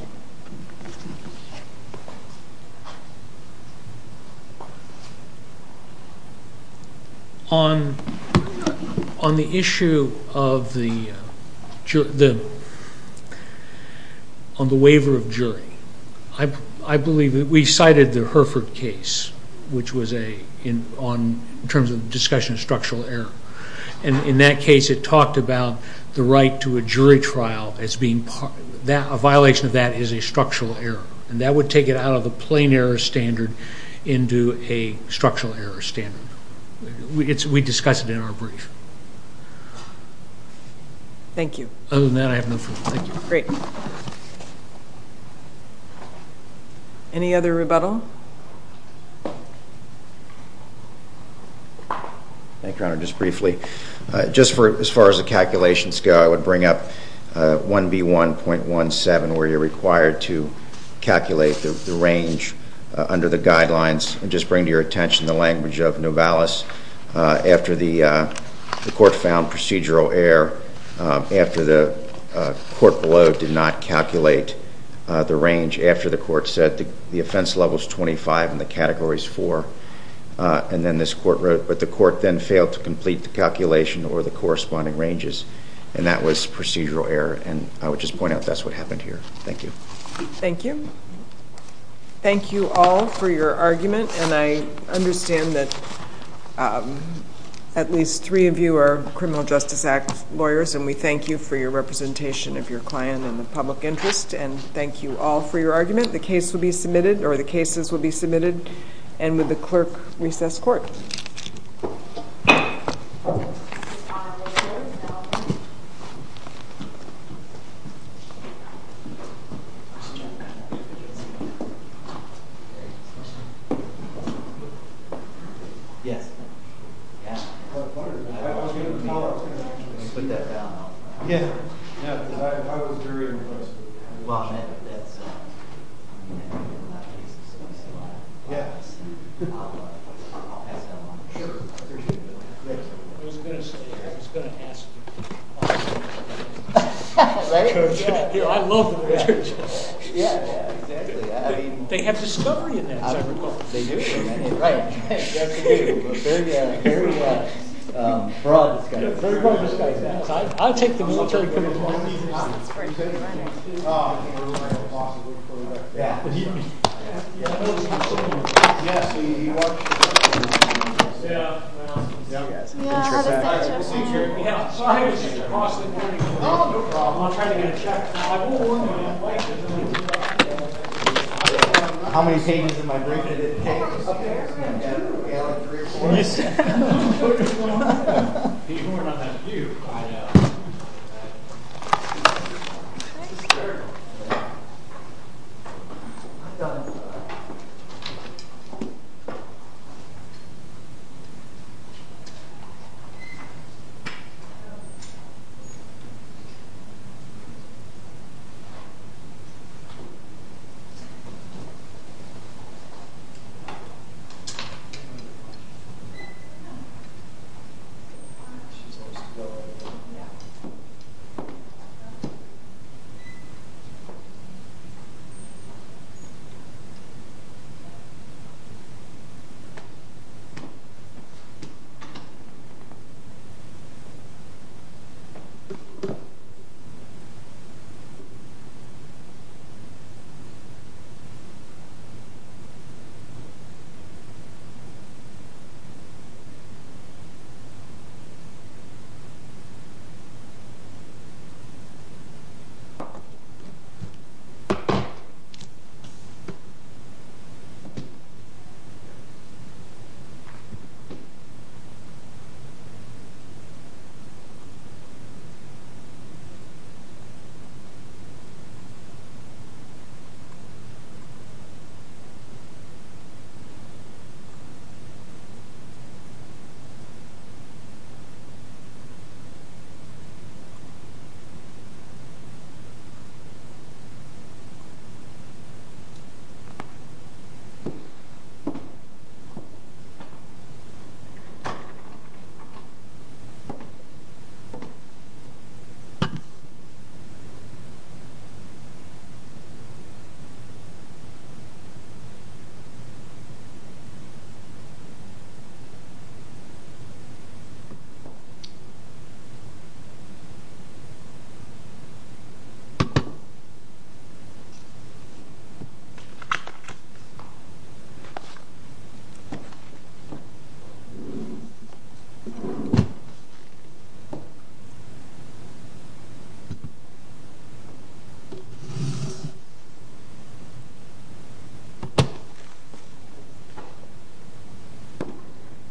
you. On the issue of the waiver of jury, I believe that we cited the Hereford case, which was in terms of discussion of structural error. And in that case, it talked about the right to a jury trial as being a violation of that is a structural error. And that would take it out of a plain error standard into a structural error standard. We discussed it in our brief. Thank you. Other than that, I have no further questions. Great. Any other rebuttal? Just briefly, just as far as the calculations go, I would bring up 1B1.17 where you're required to calculate the range under the guidelines. Just bring to your attention the language of Novalis. After the court found procedural error, after the court below did not calculate the range, after the court said the offense level is 25 and the category is 4, and then this court wrote, but the court then failed to complete the calculation or the corresponding ranges. And that was procedural error. And I would just point out that's what happened here. Thank you. Thank you. Thank you all for your argument. And I understand that at least three of you are Criminal Justice Act lawyers, and we thank you for your representation of your client and public interest. And thank you all for your argument. The case will be submitted, or the cases will be submitted, and to the clerk, recess courts. Thank you. Thank you. Thank you. Thank you. Thank you. Thank you. Thank you. Thank you. Thank you. Thank you.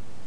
Thank you. Thank you.